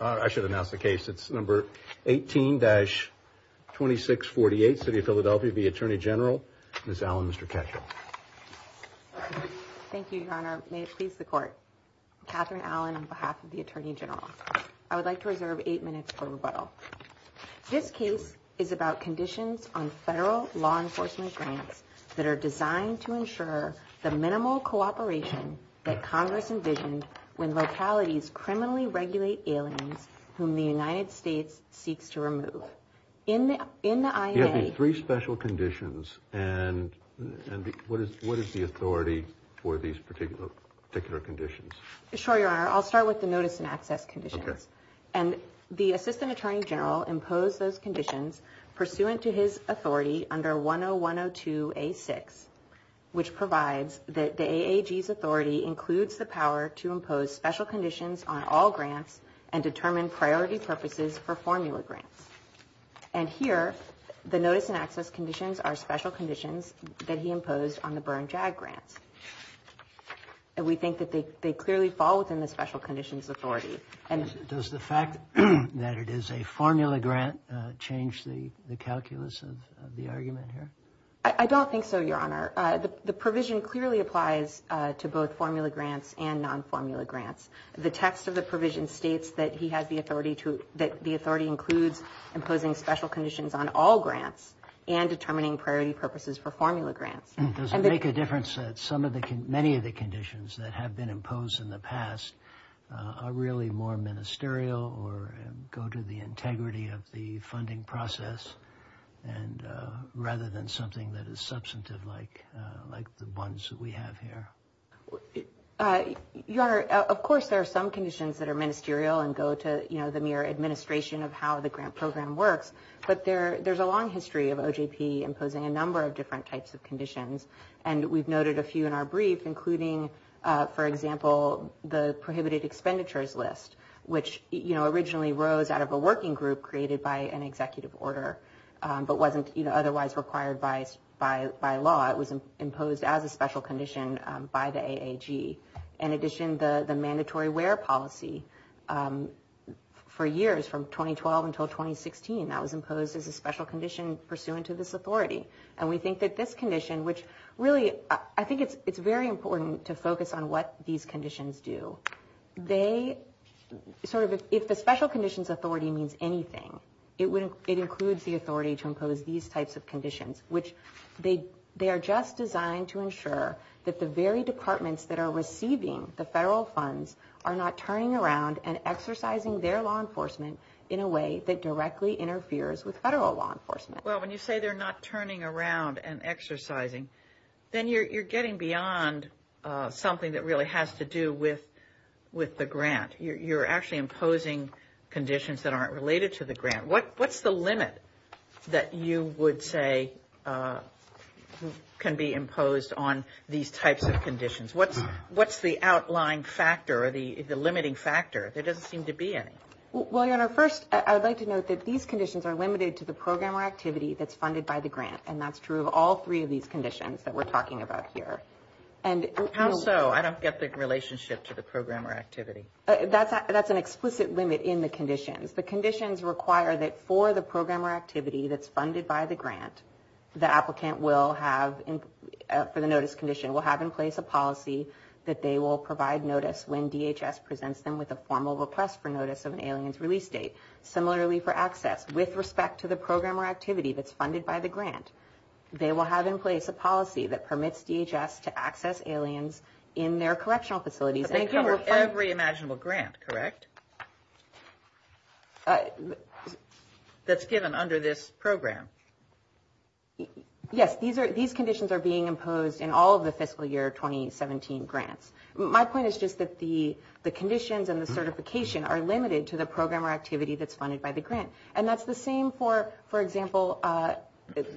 I should announce the case it's number 18-2648 City of Philadelphia v. Attorney General Ms. Allen, Mr. Ketchum. Thank you, Your Honor. May it please the Court. Catherine Allen on behalf of the Attorney General. I would like to reserve eight minutes for rebuttal. This case is about conditions on federal law enforcement grants that are designed to ensure the minimal cooperation that whom the United States seeks to remove. In the INA... You have the three special conditions and what is the authority for these particular conditions? Sure, Your Honor. I'll start with the notice and access conditions. And the Assistant Attorney General imposed those conditions pursuant to his authority under 101-102-A-6, which provides that the AAG's authority includes the power to impose special conditions on all grants and determine priority purposes for formula grants. And here, the notice and access conditions are special conditions that he imposed on the Byrne JAG grants. And we think that they clearly fall within the special conditions authority. Does the fact that it is a formula grant change the calculus of the argument here? I don't think so, Your Honor. The provision clearly applies to both formula grants and non-formula grants. The text of the provision states that he has the authority to... that the authority includes imposing special conditions on all grants and determining priority purposes for formula grants. Does it make a difference that some of the... many of the conditions that have been imposed in the past are really more ministerial or go to the integrity of the funding process and rather than something that is substantive like the ones that we have here? Your Honor, of course, there are some conditions that are ministerial and go to, you know, the mere administration of how the grant program works. But there's a long history of OJP imposing a number of different types of conditions. And we've noted a few in our brief, including, for example, the prohibited expenditures list, which, you know, originally rose out of a working group created by an executive order, but wasn't otherwise required by law. It was imposed as a special condition by the AAG. In addition, the mandatory wear policy for years, from 2012 until 2016, that was imposed as a special condition pursuant to this authority. And we think that this condition, which really, I think it's very important to focus on what these conditions do. They sort of... if the special conditions authority means anything, it includes the authority to impose these types of conditions, which they are just designed to ensure that the very departments that are receiving the federal funds are not turning around and exercising their law enforcement in a way that directly interferes with federal law enforcement. Well, when you say they're not turning around and exercising, then you're getting beyond something that really has to do with the grant. You're actually imposing conditions that aren't related to the grant. What's the limit that you would say can be imposed on these types of conditions? What's the outline factor or the limiting factor? There doesn't seem to be any. Well, Your Honor, first, I would like to note that these conditions are limited to the program or activity that's funded by the grant. And that's true of all three of these conditions that we're talking about here. How so? I don't get the relationship to the program or activity. That's an explicit limit in the conditions. The conditions require that for the program or activity that's funded by the grant, the applicant will have, for the notice condition, will have in place a policy that they will provide notice when DHS presents them with a formal request for notice of an alien's release date. Similarly for access, with respect to the program or activity that's funded by the grant, they will have in place a policy that permits DHS to access aliens in their correctional facilities. So they cover every imaginable grant, correct, that's given under this program? Yes. These conditions are being imposed in all of the fiscal year 2017 grants. My point is just that the conditions and the certification are limited to the program or activity that's funded by the grant. And that's the same for, for example,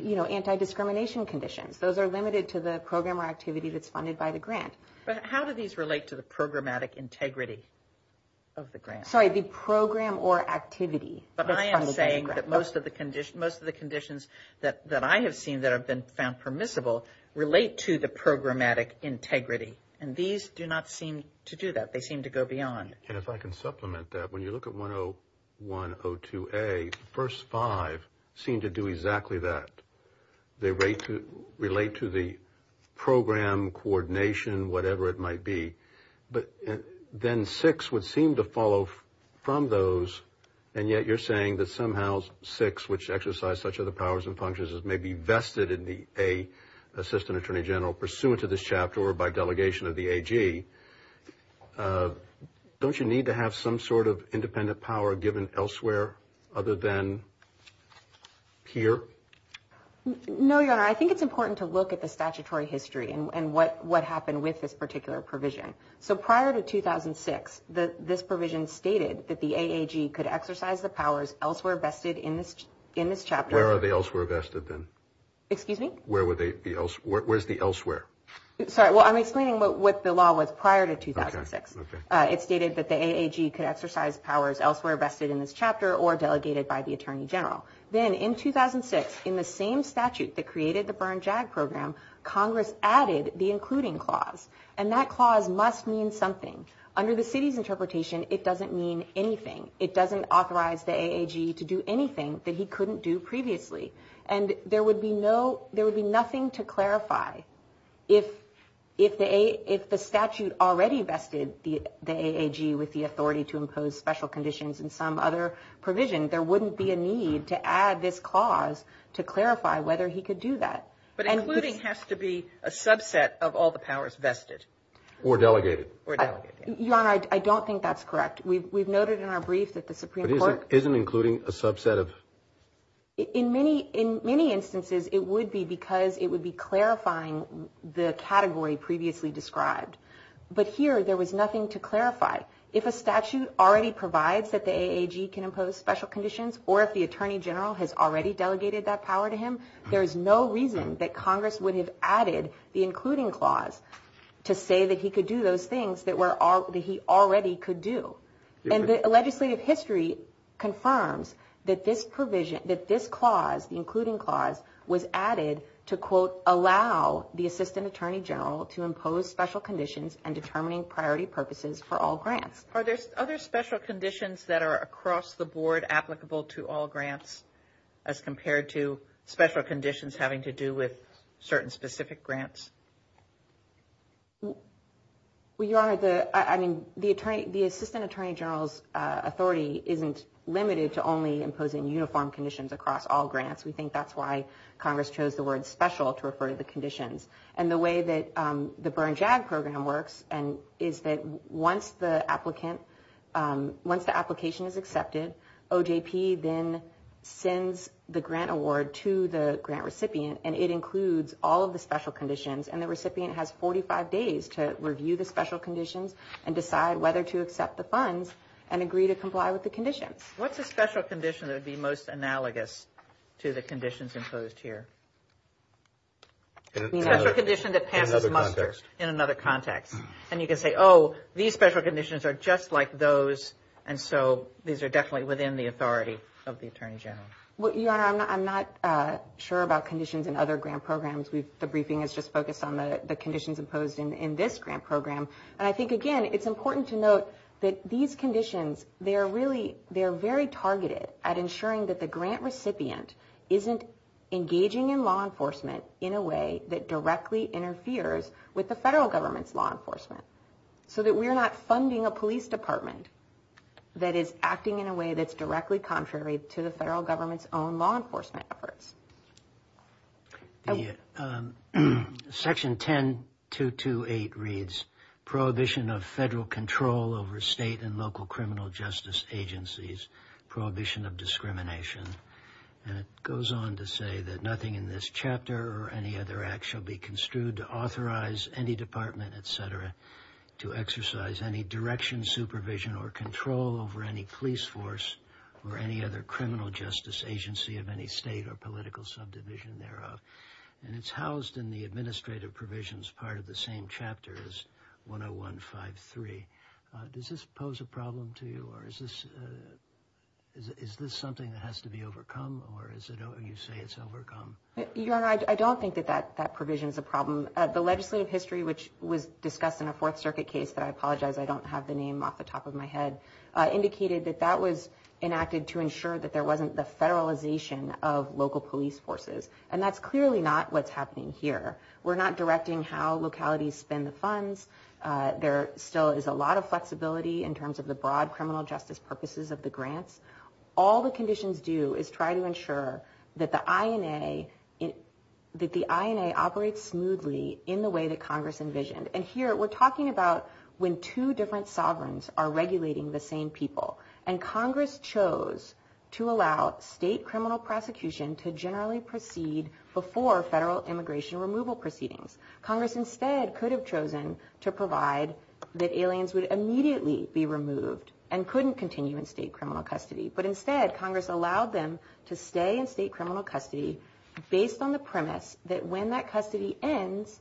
you know, anti-discrimination conditions. Those are limited to the program or activity that's funded by the grant. But how do these relate to the programmatic integrity of the grant? Sorry, the program or activity that's funded by the grant. But I am saying that most of the conditions, most of the conditions that I have seen that have been found permissible relate to the programmatic integrity. And these do not seem to do that. They seem to go beyond. And if I can supplement that, when you look at 101, 102A, the first five seem to do exactly that. They relate to the program coordination, whatever it might be. But then six would seem to follow from those, and yet you're saying that somehow six, which exercise such other powers and functions, may be vested in the Assistant Attorney General pursuant to this chapter or by delegation of the AG. Don't you need to have some sort of independent power given elsewhere other than here? No, Your Honor. I think it's important to look at the statutory history and what happened with this particular provision. So prior to 2006, this provision stated that the AAG could exercise the powers elsewhere vested in this chapter. Where are they elsewhere vested then? Excuse me? Where is the elsewhere? Sorry, well, I'm explaining what the law was prior to 2006. It stated that the AAG could exercise powers elsewhere vested in this chapter or delegated by the Attorney General. Then in 2006, in the same statute that created the Berne JAG program, Congress added the including clause, and that clause must mean something. Under the city's interpretation, it doesn't mean anything. It doesn't authorize the AAG to do anything that he couldn't do previously. And there would be nothing to clarify if the statute already vested the AAG with the authority to impose special conditions and some other provision. There wouldn't be a need to add this clause to clarify whether he could do that. But including has to be a subset of all the powers vested. Or delegated. Or delegated. Your Honor, I don't think that's correct. We've noted in our brief that the Supreme Court… But isn't including a subset of… In many instances, it would be because it would be clarifying the category previously described. But here, there was nothing to clarify. If a statute already provides that the AAG can impose special conditions, or if the Attorney General has already delegated that power to him, there is no reason that Congress would have added the including clause to say that he could do those things that he already could do. And the legislative history confirms that this provision, that this clause, the including clause, was added to, quote, allow the Assistant Attorney General to impose special conditions and determining priority purposes for all grants. Are there other special conditions that are across the board applicable to all grants, as compared to special conditions having to do with certain specific grants? Well, Your Honor, the Assistant Attorney General's authority isn't limited to only imposing uniform conditions across all grants. We think that's why Congress chose the word special to refer to the conditions. And the way that the Burns-Jagg Program works is that once the application is accepted, OJP then sends the grant award to the grant recipient, and it includes all of the special conditions, and the recipient has 45 days to review the special conditions and decide whether to accept the funds and agree to comply with the conditions. What's a special condition that would be most analogous to the conditions imposed here? A special condition that passes muster. In another context. In another context. And you can say, oh, these special conditions are just like those, and so these are definitely within the authority of the Attorney General. Well, Your Honor, I'm not sure about conditions in other grant programs. The briefing is just focused on the conditions imposed in this grant program. And I think, again, it's important to note that these conditions, they are very targeted at ensuring that the grant recipient isn't engaging in law enforcement in a way that directly interferes with the federal government's law enforcement, so that we're not funding a police department that is acting in a way that's directly contrary to the federal government's own law enforcement efforts. Section 10228 reads, Prohibition of federal control over state and local criminal justice agencies. Prohibition of discrimination. And it goes on to say that nothing in this chapter or any other act shall be construed to authorize any department, et cetera, to exercise any direction, supervision, or control over any police force or any other criminal justice agency of any state or political subdivision thereof. And it's housed in the administrative provisions part of the same chapter as 10153. Does this pose a problem to you? Or is this something that has to be overcome? Or you say it's overcome? Your Honor, I don't think that that provision is a problem. The legislative history, which was discussed in a Fourth Circuit case that I apologize I don't have the name off the top of my head, indicated that that was enacted to ensure that there wasn't the federalization of local police forces. And that's clearly not what's happening here. We're not directing how localities spend the funds. There still is a lot of flexibility in terms of the broad criminal justice purposes of the grants. All the conditions do is try to ensure that the INA operates smoothly in the way that Congress envisioned. And here we're talking about when two different sovereigns are regulating the same people. And Congress chose to allow state criminal prosecution to generally proceed before federal immigration removal proceedings. Congress instead could have chosen to provide that aliens would immediately be removed and couldn't continue in state criminal custody. But instead, Congress allowed them to stay in state criminal custody based on the premise that when that custody ends,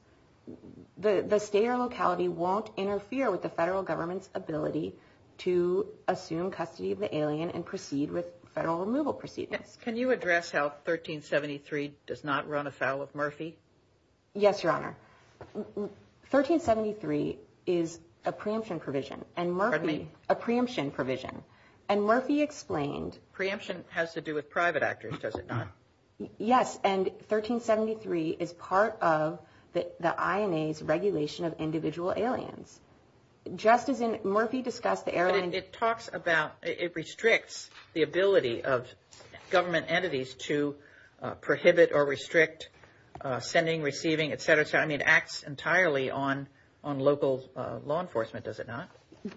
the state or locality won't interfere with the federal government's ability to assume custody of the alien and proceed with federal removal proceedings. Can you address how 1373 does not run afoul of Murphy? Yes, Your Honor. 1373 is a preemption provision. Pardon me? A preemption provision. And Murphy explained... Preemption has to do with private actors, does it not? Yes. And 1373 is part of the INA's regulation of individual aliens. Just as in Murphy discussed the airline... But it talks about... It restricts the ability of government entities to prohibit or restrict sending, receiving, et cetera, et cetera. I mean, it acts entirely on local law enforcement, does it not?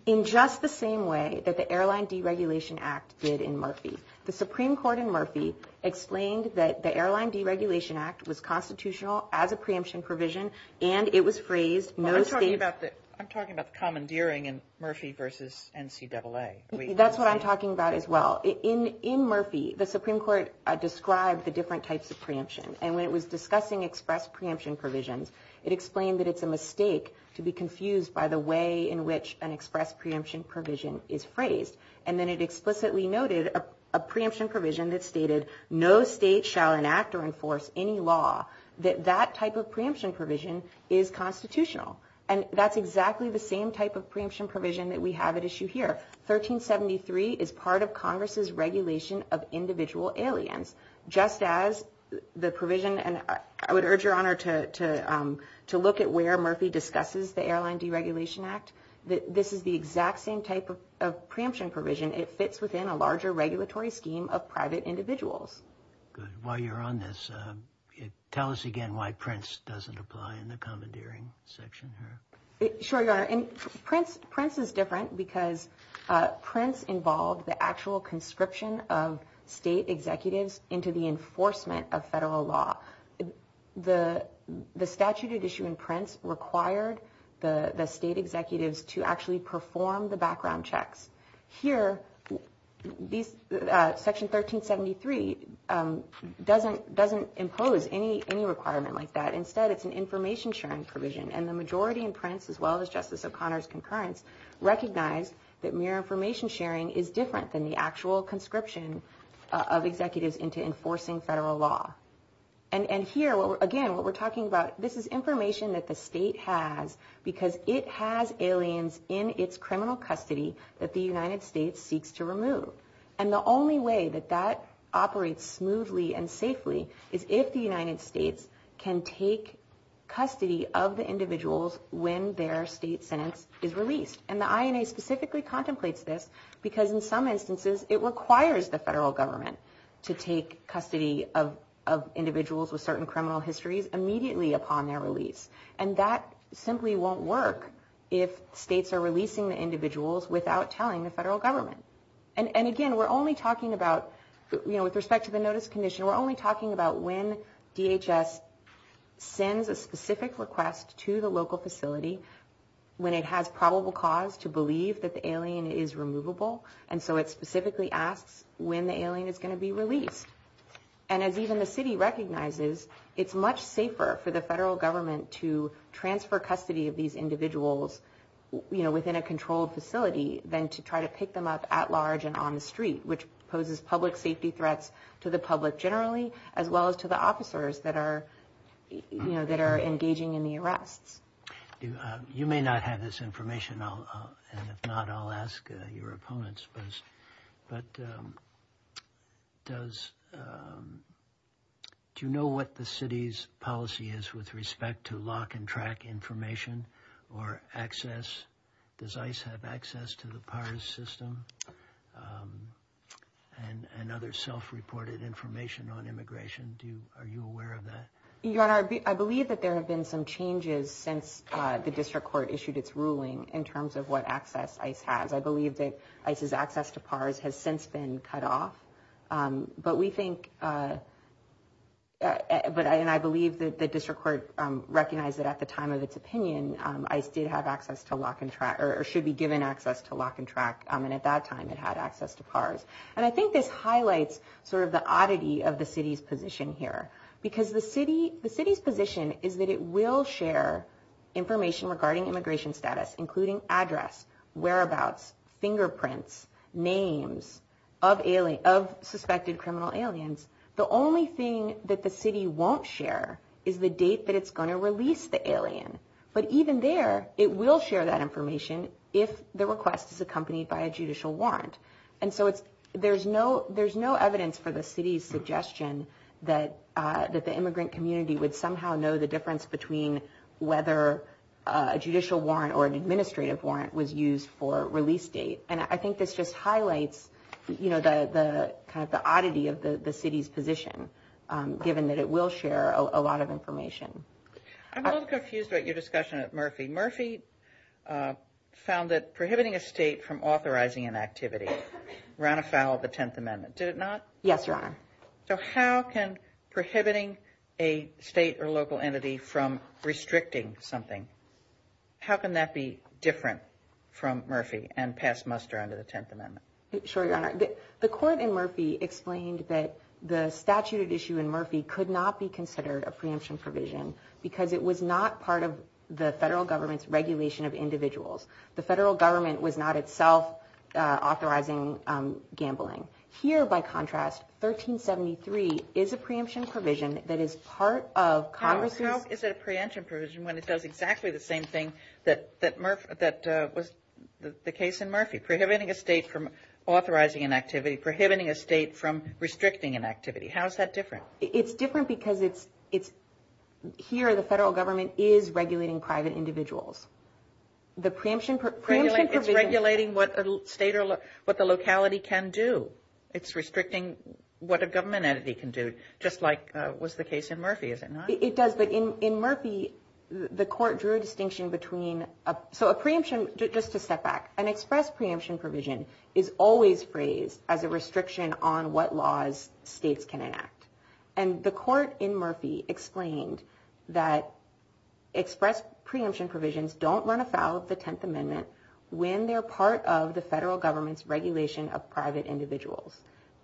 In just the same way that the Airline Deregulation Act did in Murphy. The Supreme Court in Murphy explained that the Airline Deregulation Act was constitutional as a preemption provision and it was phrased... I'm talking about the commandeering in Murphy versus NCAA. That's what I'm talking about as well. In Murphy, the Supreme Court described the different types of preemption. And when it was discussing express preemption provisions, it explained that it's a mistake to be confused by the way in which an express preemption provision is phrased. And then it explicitly noted a preemption provision that stated no state shall enact or enforce any law that that type of preemption provision is constitutional. And that's exactly the same type of preemption provision that we have at issue here. 1373 is part of Congress's regulation of individual aliens. Just as the provision... I would urge your honor to look at where Murphy discusses the Airline Deregulation Act. This is the exact same type of preemption provision. It fits within a larger regulatory scheme of private individuals. Good. While you're on this, tell us again why Prince doesn't apply in the commandeering section here. Sure, your honor. Prince is different because Prince involved the actual conscription of state executives into the enforcement of federal law. The statute at issue in Prince required the state executives to actually perform the background checks. Here, Section 1373 doesn't impose any requirement like that. And the majority in Prince, as well as Justice O'Connor's concurrence, recognize that mere information sharing is different than the actual conscription of executives into enforcing federal law. And here, again, what we're talking about, this is information that the state has because it has aliens in its criminal custody that the United States seeks to remove. And the only way that that operates smoothly and safely is if the United States can take custody of the individuals when their state sentence is released. And the INA specifically contemplates this because, in some instances, it requires the federal government to take custody of individuals with certain criminal histories immediately upon their release. And that simply won't work if states are releasing the individuals without telling the federal government. And again, we're only talking about, you know, with respect to the notice condition, we're only talking about when DHS sends a specific request to the local facility, when it has probable cause to believe that the alien is removable. And so it specifically asks when the alien is going to be released. And as even the city recognizes, it's much safer for the federal government to transfer custody of these individuals, you know, within a controlled facility than to try to pick them up at large and on the street, which poses public safety threats to the public generally, as well as to the officers that are, you know, that are engaging in the arrests. You may not have this information, and if not, I'll ask your opponents. But does – do you know what the city's policy is with respect to lock and track information or access? Does ICE have access to the PARS system and other self-reported information on immigration? Do you – are you aware of that? Your Honor, I believe that there have been some changes since the district court issued its ruling in terms of what access ICE has. I believe that ICE's access to PARS has since been cut off. But we think – and I believe that the district court recognized that at the time of its opinion, ICE did have access to lock and track – or should be given access to lock and track, and at that time it had access to PARS. And I think this highlights sort of the oddity of the city's position here, because the city – the city's position is that it will share information regarding immigration status, including address, whereabouts, fingerprints, names of – of suspected criminal aliens. The only thing that the city won't share is the date that it's going to release the alien. But even there, it will share that information if the request is accompanied by a judicial warrant. And so it's – there's no – there's no evidence for the city's suggestion that – that the immigrant community would somehow know the difference between whether a judicial warrant or an administrative warrant was used for release date. And I think this just highlights, you know, the – kind of the oddity of the city's position, given that it will share a lot of information. I'm a little confused about your discussion of Murphy. Murphy found that prohibiting a state from authorizing an activity ran afoul of the Tenth Amendment, did it not? Yes, Your Honor. So how can prohibiting a state or local entity from restricting something – how can that be different from Murphy and pass muster under the Tenth Amendment? Sure, Your Honor. The court in Murphy explained that the statute at issue in Murphy could not be considered a preemption provision because it was not part of the federal government's regulation of individuals. The federal government was not itself authorizing gambling. Here, by contrast, 1373 is a preemption provision that is part of Congress's – How is it a preemption provision when it does exactly the same thing that was the case in Murphy, prohibiting a state from authorizing an activity, prohibiting a state from restricting an activity? How is that different? It's different because it's – here, the federal government is regulating private individuals. The preemption provision – It's regulating what the state or what the locality can do. It's restricting what a government entity can do, just like was the case in Murphy, is it not? It does, but in Murphy, the court drew a distinction between – so a preemption, just to step back, an express preemption provision is always phrased as a restriction on what laws states can enact. And the court in Murphy explained that express preemption provisions don't run afoul of the Tenth Amendment when they're part of the federal government's regulation of private individuals.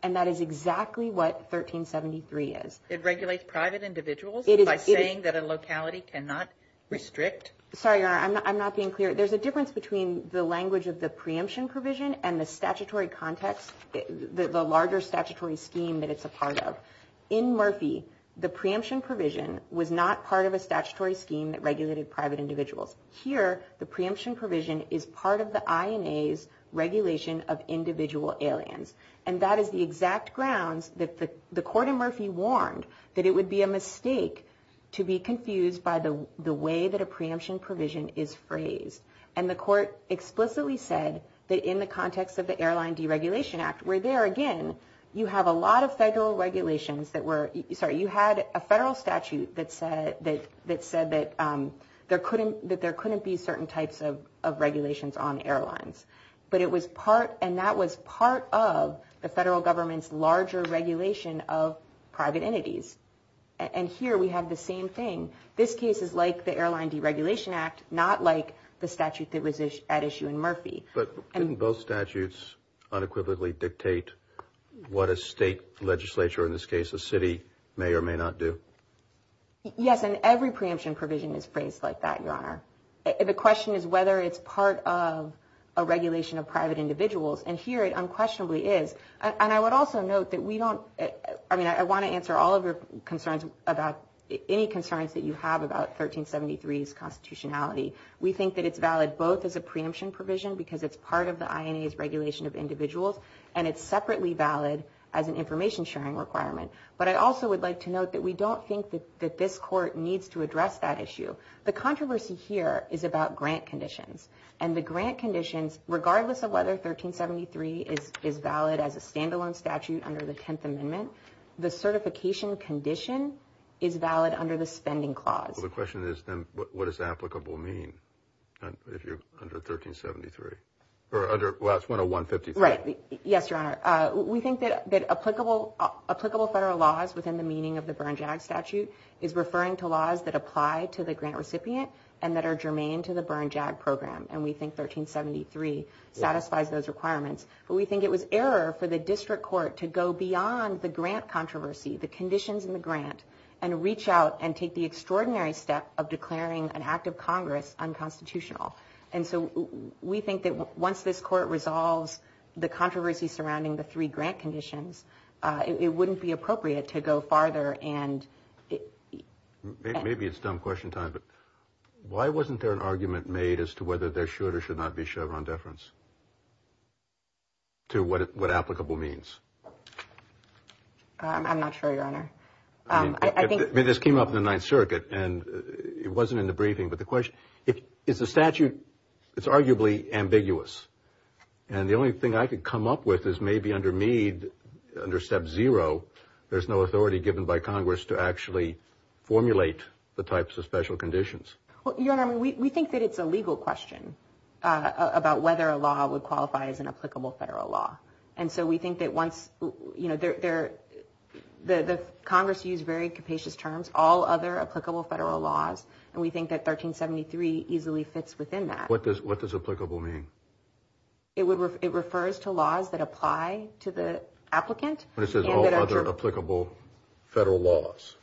And that is exactly what 1373 is. It regulates private individuals by saying that a locality cannot restrict – Sorry, Your Honor, I'm not being clear. There's a difference between the language of the preemption provision and the statutory context, the larger statutory scheme that it's a part of. In Murphy, the preemption provision was not part of a statutory scheme that regulated private individuals. Here, the preemption provision is part of the INA's regulation of individual aliens. And that is the exact grounds that the court in Murphy warned that it would be a mistake to be confused by the way that a preemption provision is phrased. And the court explicitly said that in the context of the Airline Deregulation Act, where there, again, you have a lot of federal regulations that were – sorry, you had a federal statute that said that there couldn't be certain types of regulations on airlines. But it was part – and that was part of the federal government's larger regulation of private entities. And here we have the same thing. This case is like the Airline Deregulation Act, not like the statute that was at issue in Murphy. But didn't both statutes unequivocally dictate what a state legislature, in this case a city, may or may not do? Yes, and every preemption provision is phrased like that, Your Honor. The question is whether it's part of a regulation of private individuals. And here it unquestionably is. And I would also note that we don't – I mean, I want to answer all of your concerns about – any concerns that you have about 1373's constitutionality. We think that it's valid both as a preemption provision, because it's part of the INA's regulation of individuals, and it's separately valid as an information-sharing requirement. But I also would like to note that we don't think that this court needs to address that issue. The controversy here is about grant conditions. And the grant conditions, regardless of whether 1373 is valid as a standalone statute under the Tenth Amendment, the certification condition is valid under the Spending Clause. Well, the question is, then, what does applicable mean if you're under 1373? Or under – well, it's 101-53. Right. Yes, Your Honor. We think that applicable federal laws within the meaning of the Burns-Jagg statute is referring to laws that apply to the grant recipient and that are germane to the Burns-Jagg program. And we think 1373 satisfies those requirements. But we think it was error for the district court to go beyond the grant controversy, the conditions in the grant, and reach out and take the extraordinary step of declaring an act of Congress unconstitutional. And so we think that once this court resolves the controversy surrounding the three grant conditions, it wouldn't be appropriate to go farther and – Maybe it's dumb question time, but why wasn't there an argument made as to whether there should not be Chevron deference to what applicable means? I'm not sure, Your Honor. I think – I mean, this came up in the Ninth Circuit, and it wasn't in the briefing. But the question – is the statute – it's arguably ambiguous. And the only thing I could come up with is maybe under Meade, under Step 0, there's no authority given by Congress to actually formulate the types of special conditions. Well, Your Honor, we think that it's a legal question about whether a law would qualify as an applicable federal law. And so we think that once – you know, the Congress used very capacious terms, all other applicable federal laws, and we think that 1373 easily fits within that. What does applicable mean? It refers to laws that apply to the applicant. But it says all other applicable federal laws.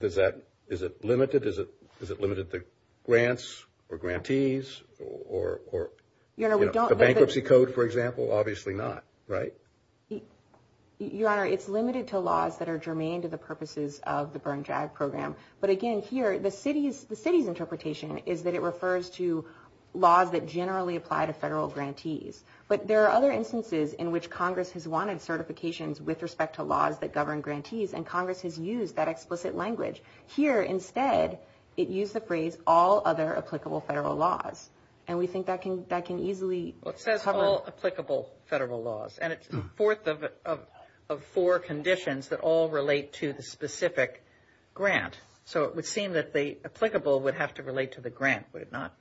Does that – is it limited? Is it limited to grants or grantees or, you know, the Bankruptcy Code, for example? Obviously not, right? Your Honor, it's limited to laws that are germane to the purposes of the Burn-Jag program. But again, here, the city's interpretation is that it refers to laws that generally apply to federal grantees. But there are other instances in which Congress has wanted certifications with respect to laws that govern grantees, and Congress has used that explicit language. Here, instead, it used the phrase all other applicable federal laws. And we think that can easily – Well, it says all applicable federal laws. And it's the fourth of four conditions that all relate to the specific grant. So it would seem that the applicable would have to relate to the grant, would it not?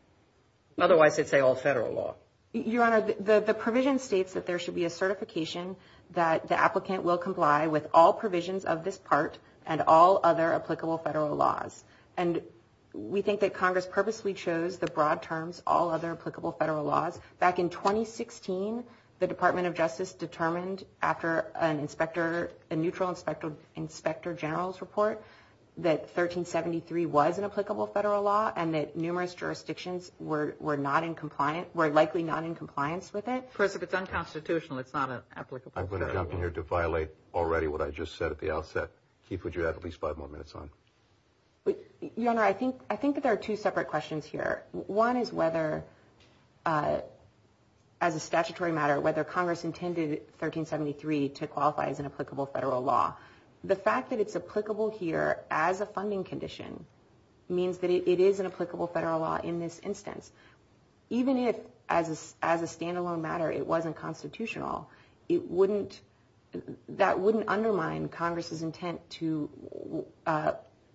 Otherwise, it'd say all federal law. Your Honor, the provision states that there should be a certification that the applicant will comply with all provisions of this part and all other applicable federal laws. And we think that Congress purposely chose the broad terms all other applicable federal laws. Back in 2016, the Department of Justice determined after a neutral inspector general's report that 1373 was an applicable federal law and that numerous jurisdictions were likely not in compliance with it. Chris, if it's unconstitutional, it's not an applicable federal law. I'm going to jump in here to violate already what I just said at the outset. Keith, would you have at least five more minutes on it? Your Honor, I think that there are two separate questions here. One is whether, as a statutory matter, whether Congress intended 1373 to qualify as an applicable federal law. The fact that it's applicable here as a funding condition means that it is an applicable federal law in this instance. Even if, as a standalone matter, it wasn't constitutional, that wouldn't undermine Congress's intent to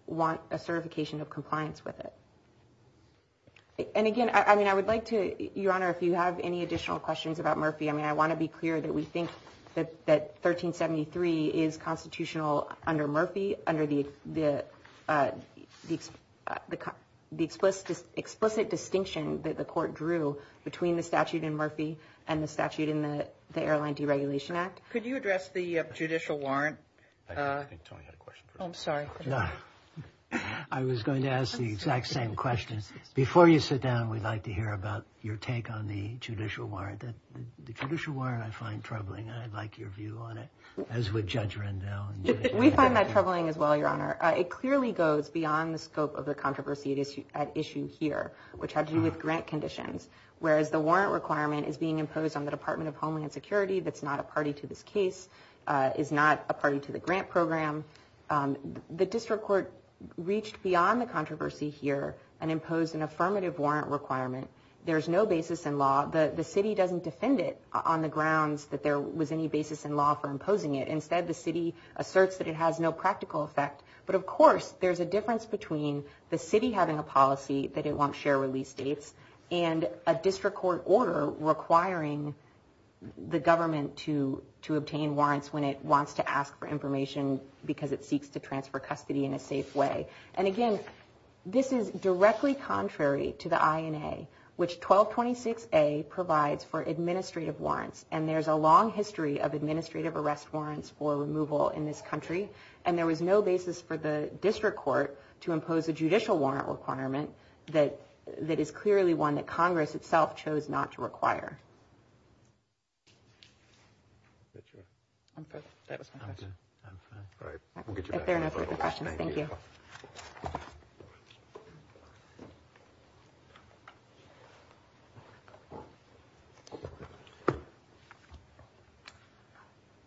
want a certification of compliance with it. And again, I would like to, Your Honor, if you have any additional questions about Murphy, I want to be clear that we think that 1373 is constitutional under Murphy, under the explicit distinction that the Court drew between the statute in Murphy and the statute in the Airline Deregulation Act. Could you address the judicial warrant? I think Tony had a question. I'm sorry. I was going to ask the exact same question. Before you sit down, we'd like to hear about your take on the judicial warrant. The judicial warrant I find troubling, and I'd like your view on it, as would Judge Rendell. We find that troubling as well, Your Honor. It clearly goes beyond the scope of the controversy at issue here, which had to do with grant conditions, whereas the warrant requirement is being imposed on the Department of Homeland Security that's not a party to this case, is not a party to the grant program. The district court reached beyond the controversy here and imposed an affirmative warrant requirement. There's no basis in law. The city doesn't defend it on the grounds that there was any basis in law for imposing it. Instead, the city asserts that it has no practical effect. But, of course, there's a difference between the city having a policy that it won't share release dates and a district court order requiring the government to obtain warrants when it wants to ask for information because it seeks to transfer custody in a safe way. And, again, this is directly contrary to the INA, which 1226A provides for administrative warrants, and there's a long history of administrative arrest warrants for removal in this country, and there was no basis for the district court to impose a judicial warrant requirement that is clearly one that Congress itself chose not to require. I'm fine. That was my question. I'm fine. I'm fine. All right. We'll get you back. If there are no further questions, thank you. Thank you.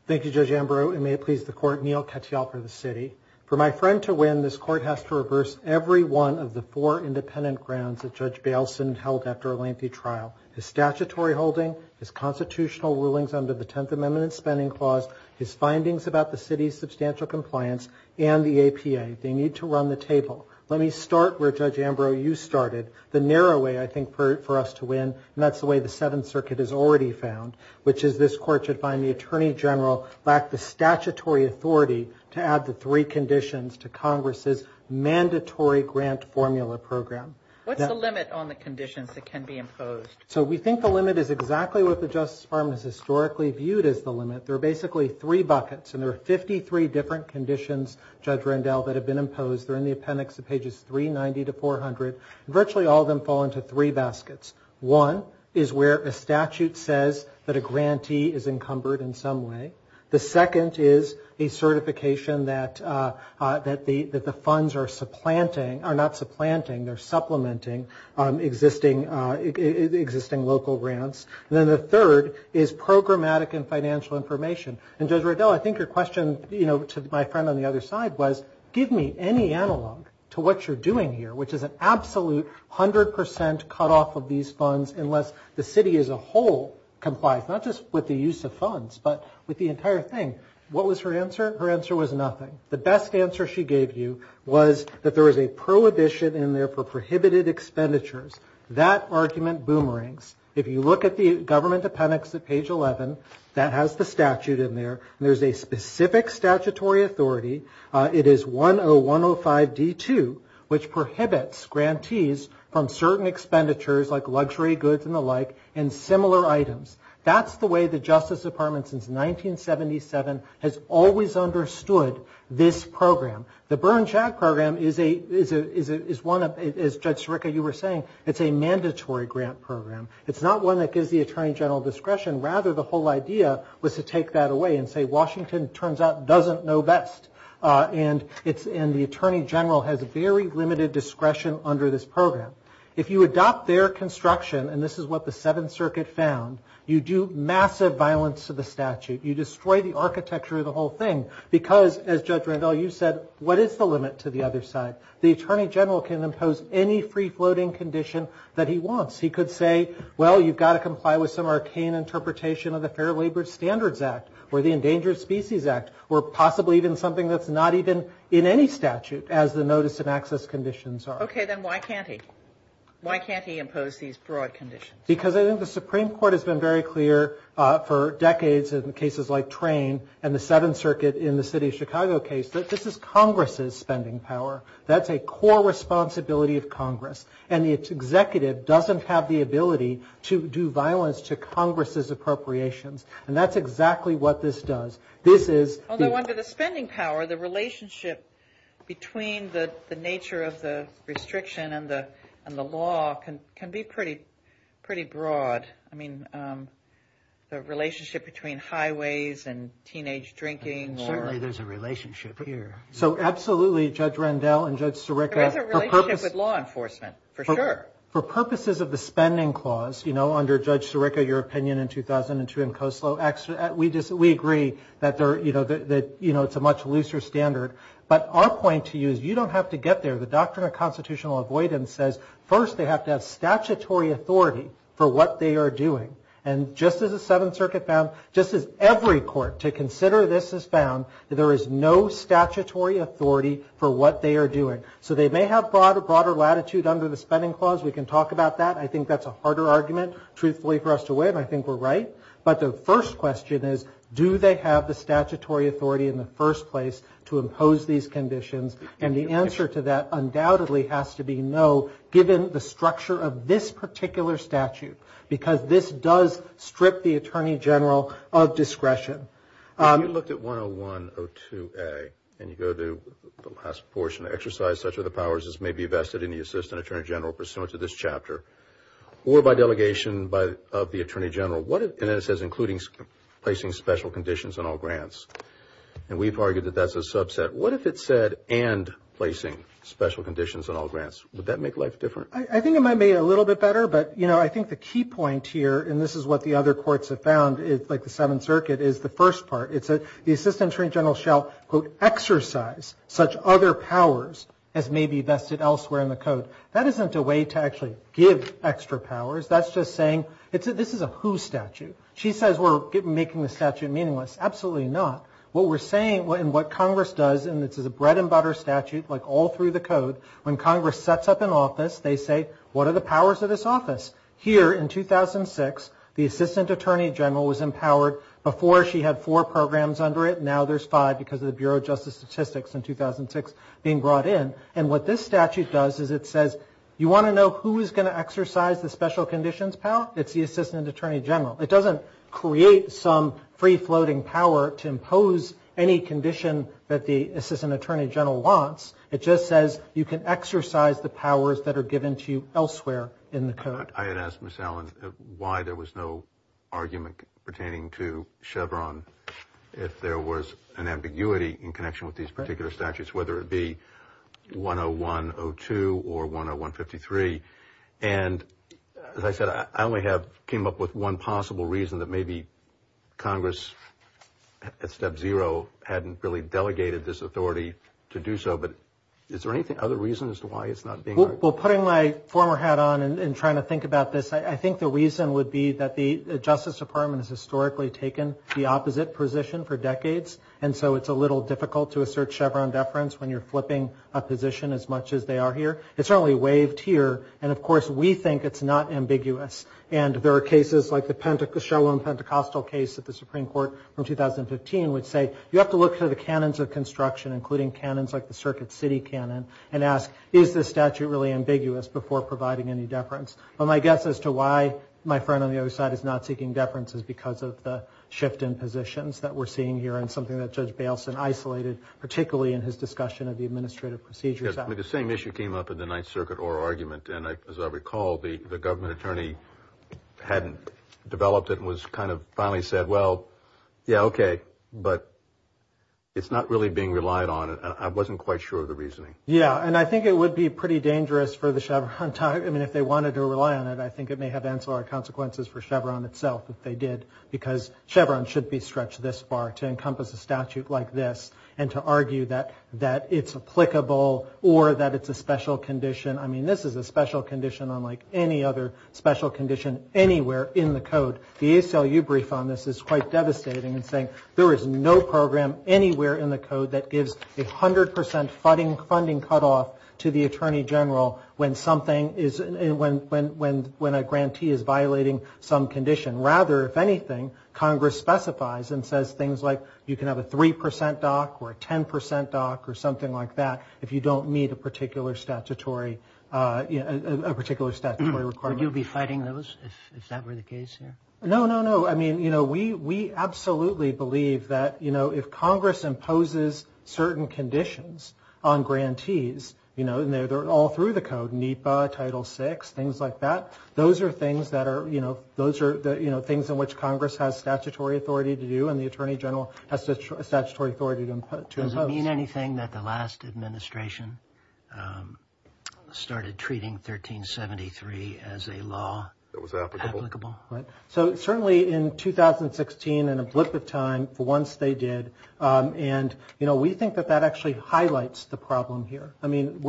Thank you, Judge Ambrose, and may it please the Court, Neal Katyal for the city. For my friend to win, this Court has to reverse every one of the four independent grounds that Judge Bailson held after a lengthy trial. His statutory holding, his constitutional rulings under the Tenth Amendment and Spending Clause, his findings about the city's substantial compliance, and the APA. They need to run the table. Let me start where, Judge Ambrose, you started, the narrow way, I think, for us to win, and that's the way the Seventh Circuit has already found, which is this Court should find the Attorney General lacked the statutory authority to add the three conditions to Congress's mandatory grant formula program. What's the limit on the conditions that can be imposed? So we think the limit is exactly what the Justice Department has historically viewed as the limit. There are basically three buckets, and there are 53 different conditions, Judge Rendell, that have been imposed. They're in the appendix to pages 390 to 400. Virtually all of them fall into three baskets. One is where a statute says that a grantee is encumbered in some way. The second is a certification that the funds are supplanting, are not supplanting, they're supplementing existing local grants. And then the third is programmatic and financial information. And, Judge Rendell, I think your question, you know, to my friend on the other side, was give me any analog to what you're doing here, which is an absolute 100% cutoff of these funds unless the city as a whole complies, not just with the use of funds, but with the entire thing. What was her answer? Her answer was nothing. The best answer she gave you was that there was a prohibition in there for prohibited expenditures. That argument boomerangs. If you look at the government appendix at page 11, that has the statute in there, and there's a specific statutory authority. It is 10105D2, which prohibits grantees from certain expenditures, like luxury goods and the like, and similar items. That's the way the Justice Department since 1977 has always understood this program. The Burn Shack program is one of, as Judge Sirica, you were saying, it's a mandatory grant program. It's not one that gives the Attorney General discretion. Rather, the whole idea was to take that away and say Washington, it turns out, doesn't know best. And the Attorney General has very limited discretion under this program. If you adopt their construction, and this is what the Seventh Circuit found, you do massive violence to the statute. You destroy the architecture of the whole thing because, as Judge Randall, you said, what is the limit to the other side? The Attorney General can impose any free-floating condition that he wants. He could say, well, you've got to comply with some arcane interpretation of the Fair Labor Standards Act or the Endangered Species Act or possibly even something that's not even in any statute, as the notice and access conditions are. Okay, then why can't he? Why can't he impose these broad conditions? Because I think the Supreme Court has been very clear for decades in cases like Train and the Seventh Circuit in the city of Chicago case that this is Congress's spending power. That's a core responsibility of Congress. And the executive doesn't have the ability to do violence to Congress's appropriations. And that's exactly what this does. Although under the spending power, the relationship between the nature of the restriction and the law can be pretty broad. I mean, the relationship between highways and teenage drinking. Certainly there's a relationship here. So absolutely, Judge Randall and Judge Sirica. There is a relationship with law enforcement, for sure. For purposes of the spending clause, you know, under Judge Sirica, your opinion in 2002 in Koslo, we agree that, you know, it's a much looser standard. But our point to you is you don't have to get there. The Doctrine of Constitutional Avoidance says first they have to have statutory authority for what they are doing. And just as the Seventh Circuit found, just as every court to consider this has found, that there is no statutory authority for what they are doing. So they may have broader latitude under the spending clause. We can talk about that. I think that's a harder argument, truthfully, for us to win. I think we're right. But the first question is, do they have the statutory authority in the first place to impose these conditions? And the answer to that undoubtedly has to be no, given the structure of this particular statute. Because this does strip the Attorney General of discretion. If you looked at 101-02A, and you go to the last portion, exercise such are the powers as may be vested in the Assistant Attorney General pursuant to this chapter, or by delegation of the Attorney General, and then it says including placing special conditions on all grants. And we've argued that that's a subset. What if it said and placing special conditions on all grants? Would that make life different? I think it might make it a little bit better. But, you know, I think the key point here, and this is what the other courts have found, like the Seventh Circuit, is the first part. It said the Assistant Attorney General shall, quote, exercise such other powers as may be vested elsewhere in the code. That isn't a way to actually give extra powers. That's just saying this is a who statute. She says we're making the statute meaningless. Absolutely not. What we're saying, and what Congress does, and this is a bread and butter statute, like all through the code, when Congress sets up an office, they say, what are the powers of this office? Here in 2006, the Assistant Attorney General was empowered. Before she had four programs under it. Now there's five because of the Bureau of Justice Statistics in 2006 being brought in. And what this statute does is it says, you want to know who is going to exercise the special conditions, pal? It's the Assistant Attorney General. It doesn't create some free-floating power to impose any condition that the Assistant Attorney General wants. It just says you can exercise the powers that are given to you elsewhere in the code. I had asked Ms. Allen why there was no argument pertaining to Chevron if there was an ambiguity in connection with these particular statutes, whether it be 101-02 or 101-53. And as I said, I only came up with one possible reason that maybe Congress, at step zero, hadn't really delegated this authority to do so. But is there any other reason as to why it's not being argued? Well, putting my former hat on and trying to think about this, I think the reason would be that the Justice Department has historically taken the opposite position for decades. And so it's a little difficult to assert Chevron deference when you're flipping a position as much as they are here. It's certainly waived here. And, of course, we think it's not ambiguous. And there are cases like the Sherwin-Pentecostal case at the Supreme Court from 2015 which say you have to look for the canons of construction, including canons like the Circuit City canon, and ask, is this statute really ambiguous before providing any deference? Well, my guess as to why my friend on the other side is not seeking deference is because of the shift in positions that we're seeing here and something that Judge Bailson isolated, particularly in his discussion of the Administrative Procedures Act. The same issue came up in the Ninth Circuit oral argument. And as I recall, the government attorney hadn't developed it and was kind of finally said, well, yeah, okay, but it's not really being relied on. I wasn't quite sure of the reasoning. Yeah, and I think it would be pretty dangerous for the Chevron. I mean, if they wanted to rely on it, I think it may have ancillary consequences for Chevron itself if they did because Chevron should be stretched this far to encompass a statute like this and to argue that it's applicable or that it's a special condition. I mean, this is a special condition unlike any other special condition anywhere in the Code. The ACLU brief on this is quite devastating in saying there is no program anywhere in the Code that gives a 100% funding cutoff to the Attorney General when a grantee is violating some condition. Rather, if anything, Congress specifies and says things like you can have a 3% dock or a 10% dock or something like that if you don't meet a particular statutory requirement. Would you be fighting those if that were the case here? No, no, no. I mean, we absolutely believe that if Congress imposes certain conditions on grantees, and they're all through the Code, NEPA, Title VI, things like that, those are things in which Congress has statutory authority to do and the Attorney General has statutory authority to impose. Does it mean anything that the last administration started treating 1373 as a law? That was applicable. Applicable, right. So certainly in 2016, in a blip of time, for once they did, and we think that that actually highlights the problem here. I mean,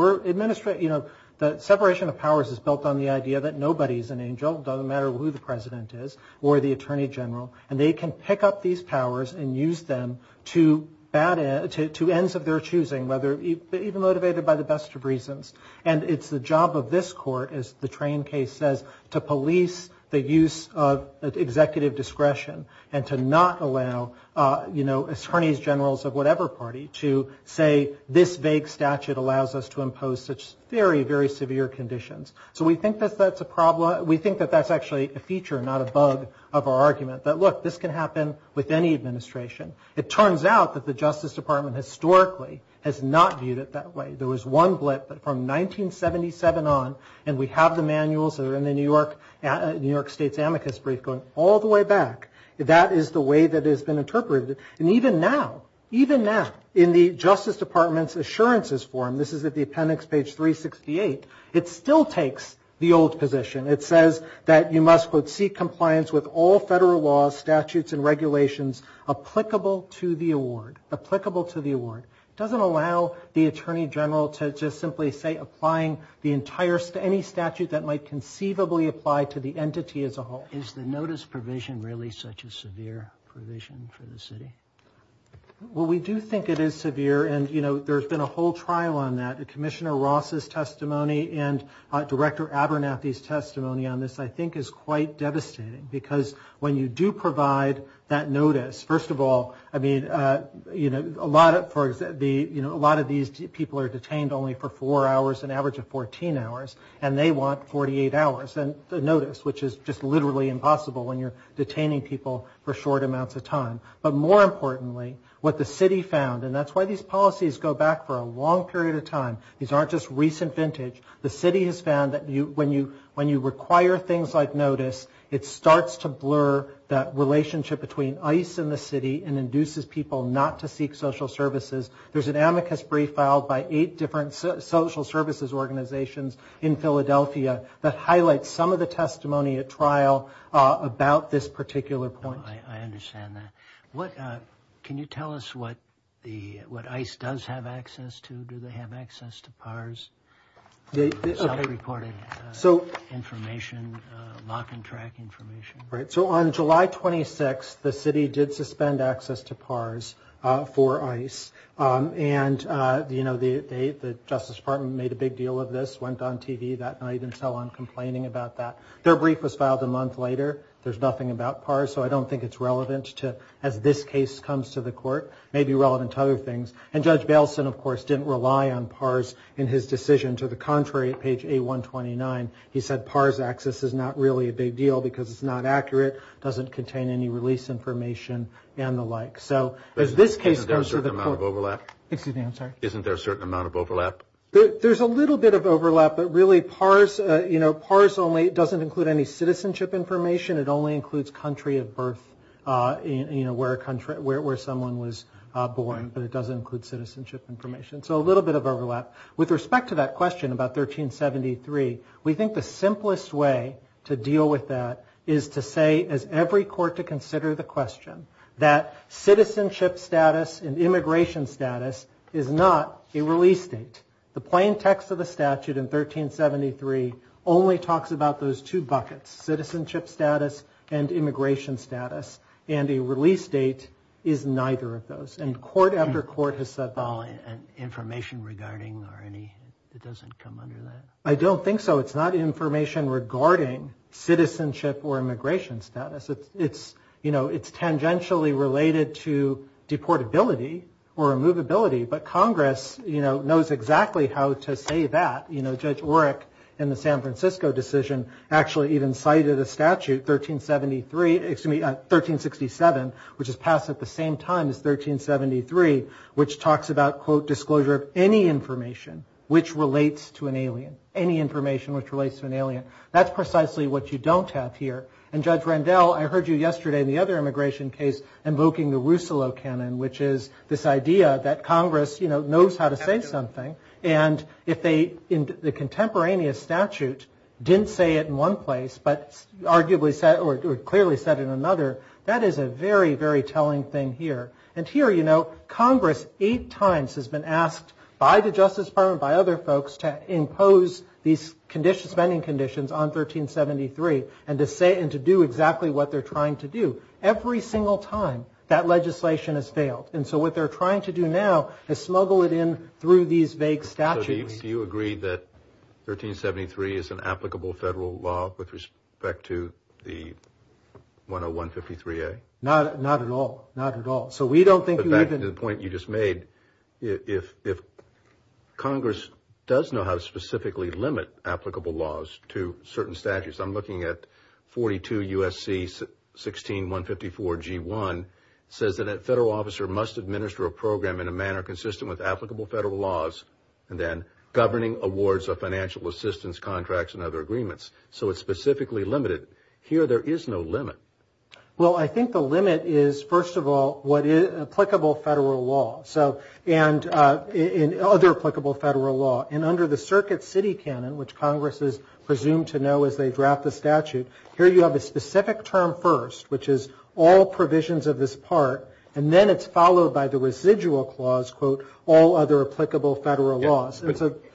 the separation of powers is built on the idea that nobody is an angel, it doesn't matter who the President is or the Attorney General, and they can pick up these powers and use them to ends of their choosing, even motivated by the best of reasons. And it's the job of this Court, as the train case says, to police the use of executive discretion and to not allow attorneys generals of whatever party to say, this vague statute allows us to impose such very, very severe conditions. So we think that that's a problem. We think that that's actually a feature, not a bug, of our argument, that, look, this can happen with any administration. It turns out that the Justice Department historically has not viewed it that way. There was one blip from 1977 on, and we have the manuals that are in the New York State's amicus brief going all the way back. That is the way that it has been interpreted. And even now, even now, in the Justice Department's assurances form, this is at the appendix, page 368, it still takes the old position. It says that you must, quote, seek compliance with all federal laws, statutes, and regulations applicable to the award. Applicable to the award. It doesn't allow the attorney general to just simply say applying the entire, any statute that might conceivably apply to the entity as a whole. Is the notice provision really such a severe provision for the city? Well, we do think it is severe, and, you know, there's been a whole trial on that. Commissioner Ross's testimony and Director Abernathy's testimony on this, I think, is quite devastating because when you do provide that notice, first of all, I mean, you know, a lot of these people are detained only for four hours, an average of 14 hours, and they want 48 hours. And the notice, which is just literally impossible when you're detaining people for short amounts of time. But more importantly, what the city found, and that's why these policies go back for a long period of time. These aren't just recent vintage. The city has found that when you require things like notice, it starts to blur that relationship between ICE and the city and induces people not to seek social services. There's an amicus brief filed by eight different social services organizations in Philadelphia that highlights some of the testimony at trial about this particular point. I understand that. Can you tell us what ICE does have access to? Do they have access to PARS, self-reported information, lock and track information? Right, so on July 26th, the city did suspend access to PARS for ICE. And, you know, the Justice Department made a big deal of this, went on TV that night and so on, complaining about that. Their brief was filed a month later. There's nothing about PARS, so I don't think it's relevant to, as this case comes to the court, maybe relevant to other things. And Judge Bailson, of course, didn't rely on PARS in his decision. To the contrary, at page A129, he said PARS access is not really a big deal because it's not accurate, doesn't contain any release information and the like. So as this case comes to the court. Isn't there a certain amount of overlap? Excuse me, I'm sorry. Isn't there a certain amount of overlap? There's a little bit of overlap, but really PARS, you know, PARS only doesn't include any citizenship information. It only includes country of birth, you know, where someone was born, but it doesn't include citizenship information. So a little bit of overlap. With respect to that question about 1373, we think the simplest way to deal with that is to say, as every court to consider the question, that citizenship status and immigration status is not a release date. The plain text of the statute in 1373 only talks about those two buckets, citizenship status and immigration status, and a release date is neither of those. And court after court has said that. Information regarding or any, it doesn't come under that? I don't think so. It's not information regarding citizenship or immigration status. It's, you know, it's tangentially related to deportability or removability, but Congress, you know, knows exactly how to say that. You know, Judge Oreck in the San Francisco decision actually even cited a statute, 1373, excuse me, 1367, which is passed at the same time as 1373, which talks about, quote, disclosure of any information which relates to an alien, any information which relates to an alien. That's precisely what you don't have here. And Judge Rendell, I heard you yesterday in the other immigration case invoking the Rousselot canon, which is this idea that Congress, you know, knows how to say something. And if they, in the contemporaneous statute, didn't say it in one place, but arguably said or clearly said it in another, that is a very, very telling thing here. And here, you know, Congress eight times has been asked by the Justice Department, by other folks, to impose these spending conditions on 1373 and to say and to do exactly what they're trying to do. Every single time that legislation has failed. And so what they're trying to do now is smuggle it in through these vague statutes. Judge Rendell, do you agree that 1373 is an applicable federal law with respect to the 101-53-A? Not at all. Not at all. So we don't think you even... But back to the point you just made, if Congress does know how to specifically limit applicable laws to certain statutes, I'm looking at 42 U.S.C. 16-154-G1, says that a federal officer must administer a program in a manner consistent with applicable federal laws and then governing awards of financial assistance, contracts, and other agreements. So it's specifically limited. Here, there is no limit. Well, I think the limit is, first of all, what is applicable federal law. And other applicable federal law. And under the Circuit City Canon, which Congress is presumed to know as they draft the statute, here you have a specific term first, which is all provisions of this part, and then it's followed by the residual clause, quote, all other applicable federal laws.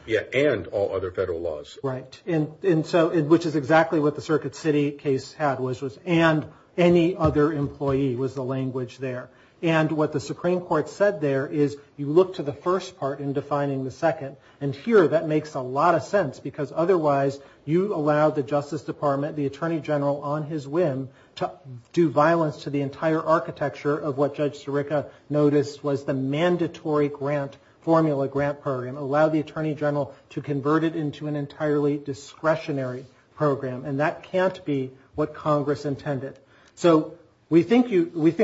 Yeah, and all other federal laws. Right. And so, which is exactly what the Circuit City case had, which was and any other employee was the language there. And what the Supreme Court said there is you look to the first part in defining the second. And here, that makes a lot of sense, because otherwise you allow the Justice Department, the Attorney General on his whim, to do violence to the entire architecture of what Judge Sirica noticed was the mandatory grant, formula grant program, allow the Attorney General to convert it into an entirely discretionary program. And that can't be what Congress intended. So we think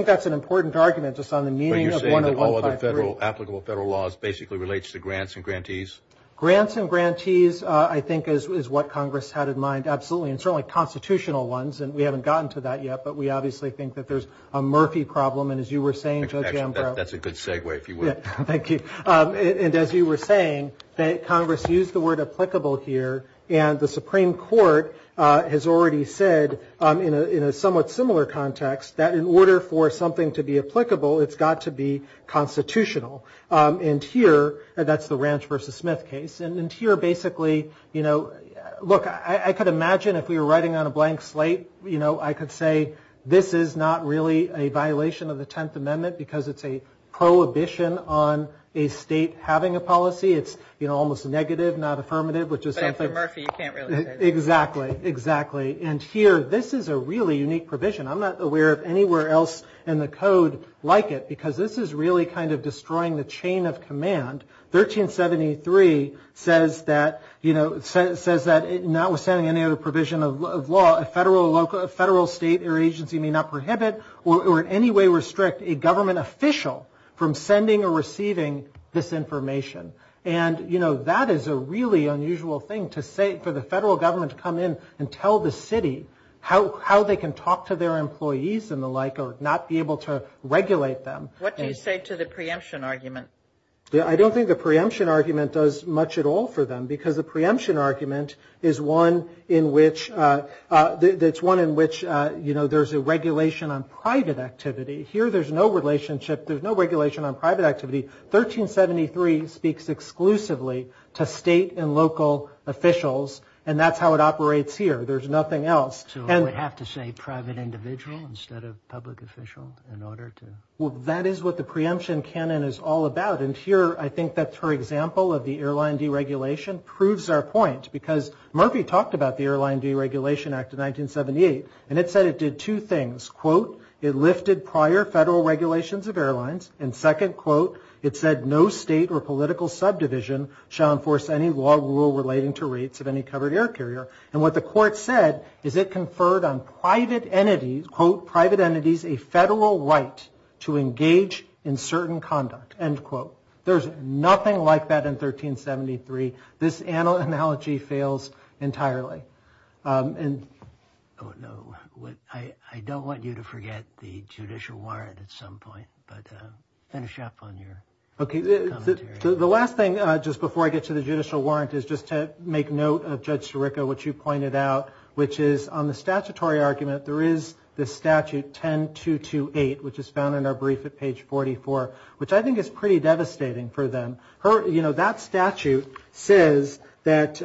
that's an important argument just on the meaning of 1-053. But you're saying that all other federal, applicable federal laws basically relates to grants and grantees? Grants and grantees, I think, is what Congress had in mind, absolutely. And certainly constitutional ones. And we haven't gotten to that yet, but we obviously think that there's a Murphy problem. And as you were saying, Judge Ambrow. Actually, that's a good segue, if you would. Thank you. And as you were saying, Congress used the word applicable here. And the Supreme Court has already said in a somewhat similar context that in order for something to be applicable, it's got to be constitutional. And here, that's the Ranch v. Smith case. And here, basically, you know, look, I could imagine if we were writing on a blank slate, you know, I could say this is not really a violation of the Tenth Amendment because it's a prohibition on a state having a policy. It's, you know, almost negative, not affirmative. But after Murphy, you can't really say that. Exactly. Exactly. And here, this is a really unique provision. I'm not aware of anywhere else in the code like it because this is really kind of destroying the chain of command. 1373 says that notwithstanding any other provision of law, a federal, state, or agency may not prohibit or in any way restrict a government official from sending or receiving this information. And, you know, that is a really unusual thing for the federal government to come in and tell the city how they can talk to their employees and the like or not be able to regulate them. What do you say to the preemption argument? I don't think the preemption argument does much at all for them because the preemption argument is one in which there's a regulation on private activity. Here there's no relationship. There's no regulation on private activity. 1373 speaks exclusively to state and local officials, and that's how it operates here. There's nothing else. So it would have to say private individual instead of public official in order to? Well, that is what the preemption canon is all about, and here I think that's her example of the airline deregulation proves our point because Murphy talked about the Airline Deregulation Act of 1978, and it said it did two things. Quote, it lifted prior federal regulations of airlines, and second quote, it said no state or political subdivision shall enforce any law relating to rates of any covered air carrier. And what the court said is it conferred on private entities, quote, to engage in certain conduct, end quote. There's nothing like that in 1373. This analogy fails entirely. I don't want you to forget the judicial warrant at some point, but finish up on your commentary. The last thing just before I get to the judicial warrant is just to make note of Judge Sirica, which you pointed out, which is on the statutory argument there is the statute 10228, which is found in our brief at page 44, which I think is pretty devastating for them. That statute says that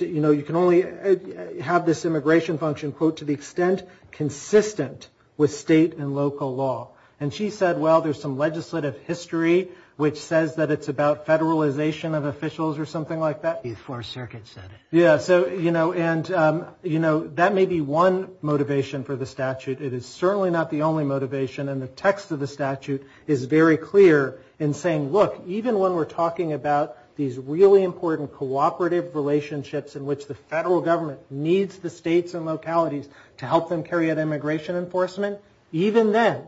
you can only have this immigration function, quote, to the extent consistent with state and local law. And she said, well, there's some legislative history which says that it's about federalization of officials or something like that. The Fourth Circuit said it. Yeah, and that may be one motivation for the statute. It is certainly not the only motivation. And the text of the statute is very clear in saying, look, even when we're talking about these really important cooperative relationships in which the federal government needs the states and localities to help them carry out immigration enforcement, even then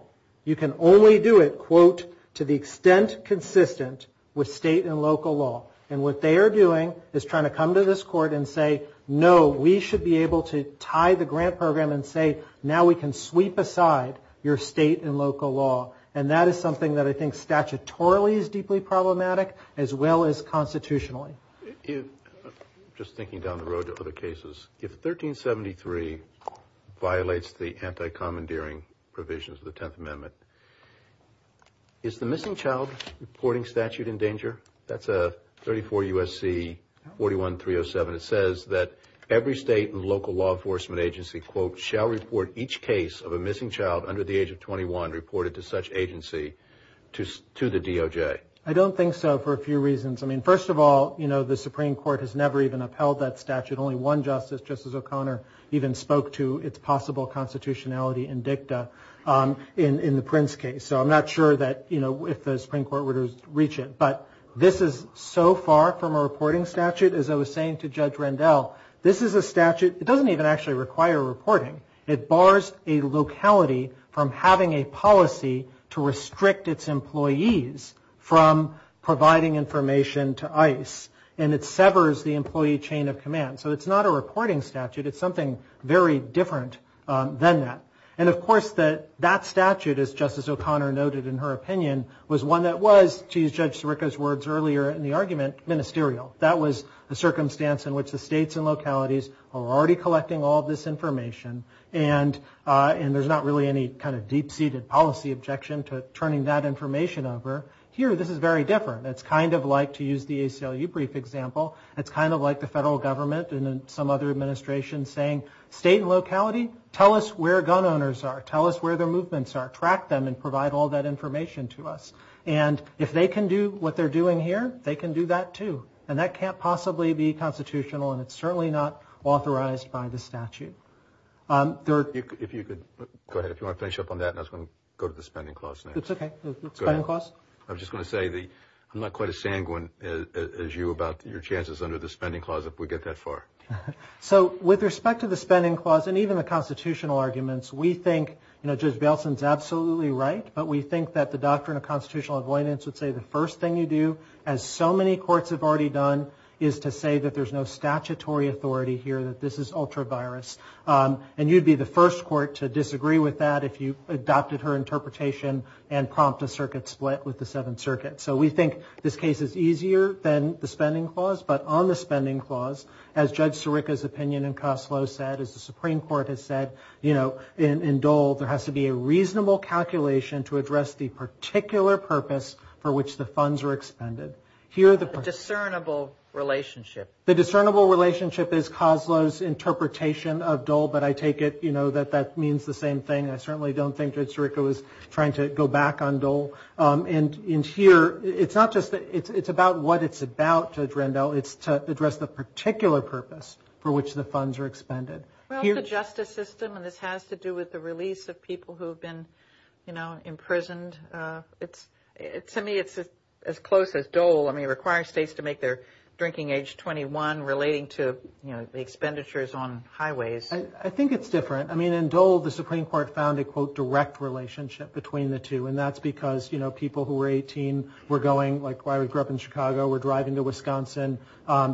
you can only do it, quote, to the extent consistent with state and local law. And what they are doing is trying to come to this court and say, no, we should be able to tie the grant program and say now we can sweep aside your state and local law. And that is something that I think statutorily is deeply problematic as well as constitutionally. Just thinking down the road to other cases, if 1373 violates the anti-commandeering provisions of the Tenth Amendment, is the missing child reporting statute in danger? That's a 34 U.S.C. 41307. It says that every state and local law enforcement agency, quote, shall report each case of a missing child under the age of 21 reported to such agency to the DOJ. I don't think so for a few reasons. I mean, first of all, you know, the Supreme Court has never even upheld that statute. Only one justice, Justice O'Connor, even spoke to its possible constitutionality in dicta in the Prince case. So I'm not sure that, you know, if the Supreme Court were to reach it. But this is so far from a reporting statute. As I was saying to Judge Rendell, this is a statute. It doesn't even actually require reporting. It bars a locality from having a policy to restrict its employees from providing information to ICE. And it severs the employee chain of command. So it's not a reporting statute. It's something very different than that. And, of course, that statute, as Justice O'Connor noted in her opinion, was one that was, to use Judge Sirica's words earlier in the argument, ministerial. That was a circumstance in which the states and localities are already collecting all this information. And there's not really any kind of deep-seated policy objection to turning that information over. Here, this is very different. It's kind of like, to use the ACLU brief example, it's kind of like the federal government and some other administrations saying, state and locality, tell us where gun owners are. Tell us where their movements are. Track them and provide all that information to us. And if they can do what they're doing here, they can do that, too. And that can't possibly be constitutional, and it's certainly not authorized by the statute. If you could go ahead. If you want to finish up on that, and I was going to go to the spending clause next. It's okay. Spending clause. I was just going to say, I'm not quite as sanguine as you about your chances under the spending clause if we get that far. So with respect to the spending clause and even the constitutional arguments, we think Judge Bailson is absolutely right, but we think that the doctrine of constitutional avoidance would say the first thing you do, as so many courts have already done, is to say that there's no statutory authority here, that this is ultra-virus. And you'd be the first court to disagree with that if you adopted her interpretation and prompt a circuit split with the Seventh Circuit. So we think this case is easier than the spending clause, but on the spending clause, as Judge Sirica's opinion in Koslow said, as the Supreme Court has said, you know, in Dole, there has to be a reasonable calculation to address the particular purpose for which the funds are expended. The discernible relationship. The discernible relationship is Koslow's interpretation of Dole, but I take it, you know, that that means the same thing. I certainly don't think Judge Sirica was trying to go back on Dole. And here, it's not just that it's about what it's about, Judge Rendell, it's to address the particular purpose for which the funds are expended. Well, the justice system, and this has to do with the release of people who have been, you know, imprisoned. To me, it's as close as Dole. I mean, it requires states to make their drinking age 21 relating to, you know, the expenditures on highways. I think it's different. I mean, in Dole, the Supreme Court found a, quote, direct relationship between the two, and that's because, you know, people who were 18 were going, like, I grew up in Chicago, were driving to Wisconsin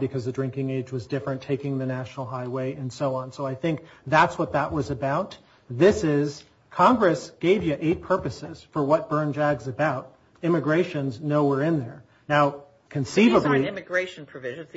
because the drinking age was different, taking the National Highway, and so on. So I think that's what that was about. This is, Congress gave you eight purposes for what Bern JAG's about. Immigration's nowhere in there. Now, conceivably- These aren't immigration provisions.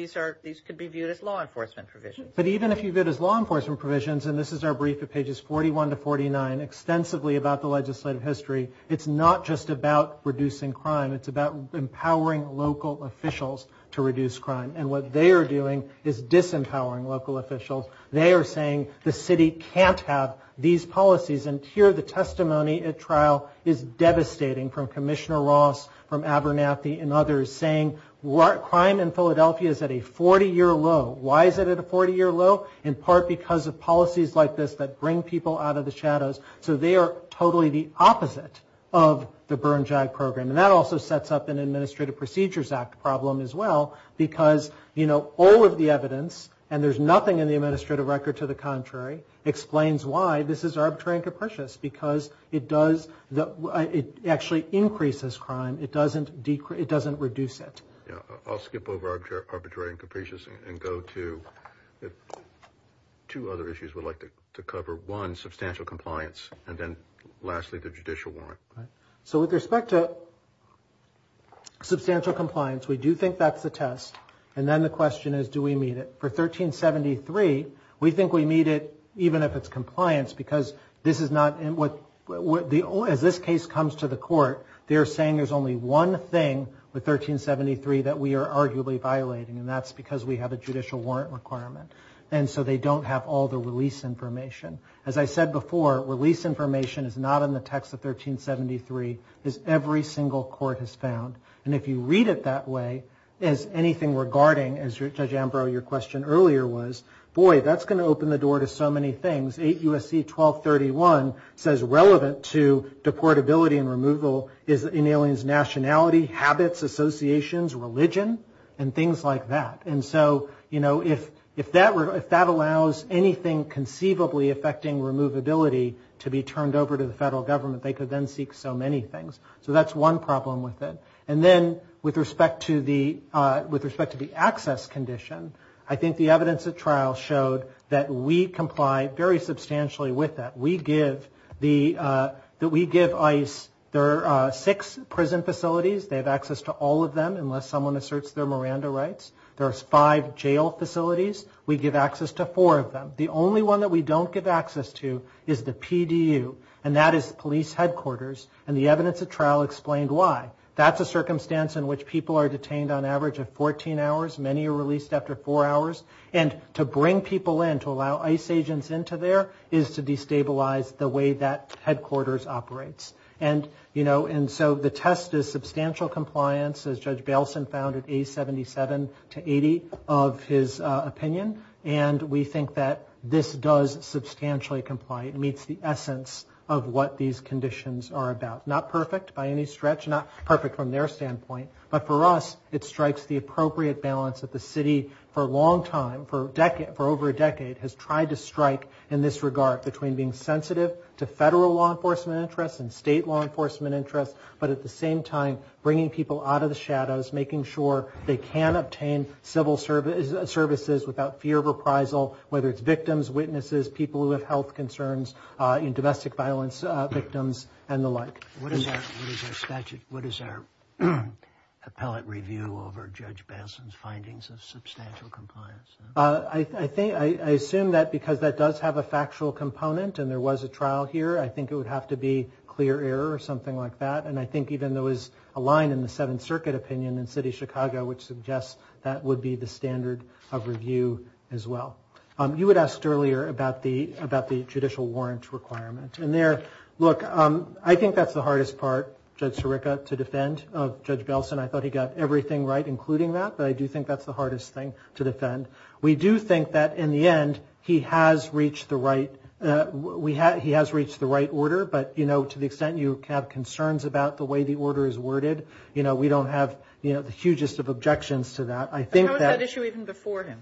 These could be viewed as law enforcement provisions. But even if you view it as law enforcement provisions, and this is our brief at pages 41 to 49, extensively about the legislative history, it's not just about reducing crime. It's about empowering local officials to reduce crime. And what they are doing is disempowering local officials. They are saying the city can't have these policies. And here, the testimony at trial is devastating from Commissioner Ross, from Abernathy, and others, saying crime in Philadelphia is at a 40-year low. Why is it at a 40-year low? In part because of policies like this that bring people out of the shadows. So they are totally the opposite of the Bern JAG program. And that also sets up an Administrative Procedures Act problem as well because, you know, all of the evidence, and there's nothing in the administrative record to the contrary, explains why this is arbitrary and capricious. Because it does, it actually increases crime. It doesn't decrease, it doesn't reduce it. I'll skip over arbitrary and capricious and go to two other issues we'd like to cover. One, substantial compliance. And then lastly, the judicial warrant. So with respect to substantial compliance, we do think that's the test. And then the question is, do we meet it? For 1373, we think we meet it even if it's compliance because this is not, as this case comes to the court, they are saying there's only one thing with 1373 that we are arguably violating. And that's because we have a judicial warrant requirement. And so they don't have all the release information. As I said before, release information is not in the text of 1373. It's every single court has found. And if you read it that way, as anything regarding, as Judge Ambrose, your question earlier was, boy, that's going to open the door to so many things. 8 U.S.C. 1231 says relevant to deportability and removal is in aliens' nationality, habits, associations, religion, and things like that. And so, you know, if that allows anything conceivably affecting removability to be turned over to the federal government, they could then seek so many things. So that's one problem with it. And then with respect to the access condition, I think the evidence at trial showed that we comply very substantially with that. We give the, that we give ICE, there are six prison facilities. They have access to all of them unless someone asserts their Miranda rights. There are five jail facilities. We give access to four of them. The only one that we don't give access to is the PDU, and that is police headquarters. And the evidence at trial explained why. That's a circumstance in which people are detained on average of 14 hours. Many are released after four hours. And to bring people in, to allow ICE agents into there, is to destabilize the way that headquarters operates. And, you know, and so the test is substantial compliance, as Judge Baleson found at A77 to 80 of his opinion. And we think that this does substantially comply. It meets the essence of what these conditions are about. Not perfect by any stretch, not perfect from their standpoint. But for us, it strikes the appropriate balance that the city, for a long time, for a decade, for over a decade, has tried to strike in this regard between being sensitive to federal law enforcement interests and state law enforcement interests, but at the same time bringing people out of the shadows, making sure they can obtain civil services without fear of reprisal, whether it's victims, witnesses, people who have health concerns, domestic violence victims, and the like. What is our, what is our statute, what is our appellate review over Judge Baleson's findings of substantial compliance? I think, I assume that because that does have a factual component and there was a trial here, I think it would have to be clear error or something like that, and I think even there was a line in the Seventh Circuit opinion in City of Chicago which suggests that would be the standard of review as well. You had asked earlier about the judicial warrant requirement. And there, look, I think that's the hardest part, Judge Sirica, to defend of Judge Baleson. I thought he got everything right, including that, but I do think that's the hardest thing to defend. We do think that, in the end, he has reached the right, he has reached the right order, but, you know, to the extent you have concerns about the way the order is worded, you know, we don't have, you know, the hugest of objections to that. How was that issue even before him?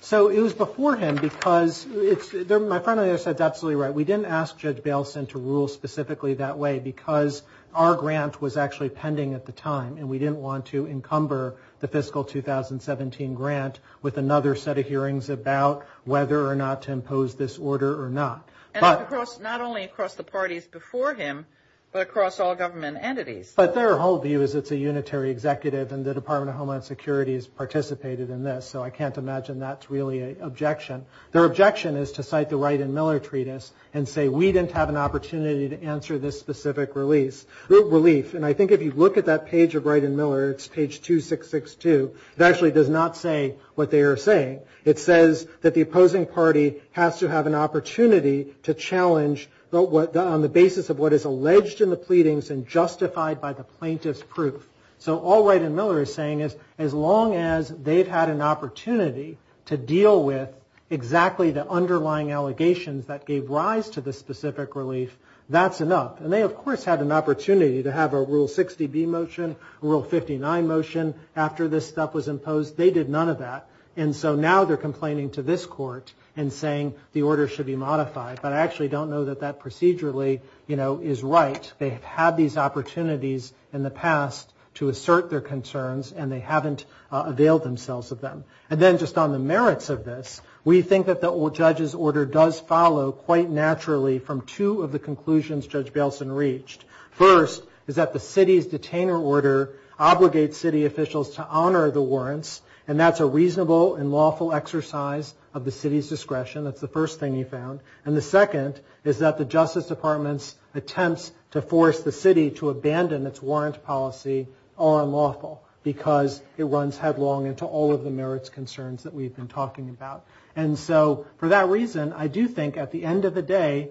So it was before him because, my friend earlier said, that's absolutely right, we didn't ask Judge Baleson to rule specifically that way because our grant was actually pending at the time, and we didn't want to encumber the fiscal 2017 grant with another set of hearings about whether or not to impose this order or not. And not only across the parties before him, but across all government entities. But their whole view is it's a unitary executive, and the Department of Homeland Security has participated in this, so I can't imagine that's really an objection. Their objection is to cite the Wright and Miller treatise and say we didn't have an opportunity to answer this specific relief. And I think if you look at that page of Wright and Miller, it's page 2662, it actually does not say what they are saying. It says that the opposing party has to have an opportunity to challenge on the basis of what is alleged in the pleadings and justified by the plaintiff's proof. So all Wright and Miller is saying is, as long as they've had an opportunity to deal with exactly the underlying allegations that gave rise to this specific relief, that's enough. And they, of course, had an opportunity to have a Rule 60B motion, a Rule 59 motion after this stuff was imposed. They did none of that, and so now they're complaining to this court and saying the order should be modified. But I actually don't know that that procedurally is right. They have had these opportunities in the past to assert their concerns, and they haven't availed themselves of them. And then just on the merits of this, we think that the judge's order does follow quite naturally from two of the conclusions Judge Bailson reached. First is that the city's detainer order obligates city officials to honor the warrants, and that's a reasonable and lawful exercise of the city's discretion. That's the first thing he found. And the second is that the Justice Department's attempts to force the city to abandon its warrant policy are unlawful because it runs headlong into all of the merits concerns that we've been talking about. And so for that reason, I do think at the end of the day,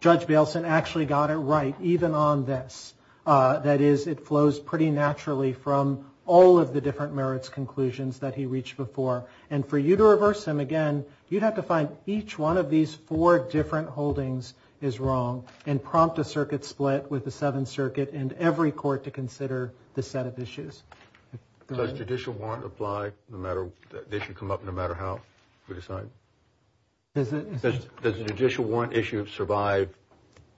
Judge Bailson actually got it right, even on this. That is, it flows pretty naturally from all of the different merits conclusions that he reached before. And for you to reverse him again, you'd have to find each one of these four different holdings is wrong and prompt a circuit split with the Seventh Circuit and every court to consider this set of issues. Does judicial warrant apply no matter, the issue come up no matter how we decide? Does the judicial warrant issue survive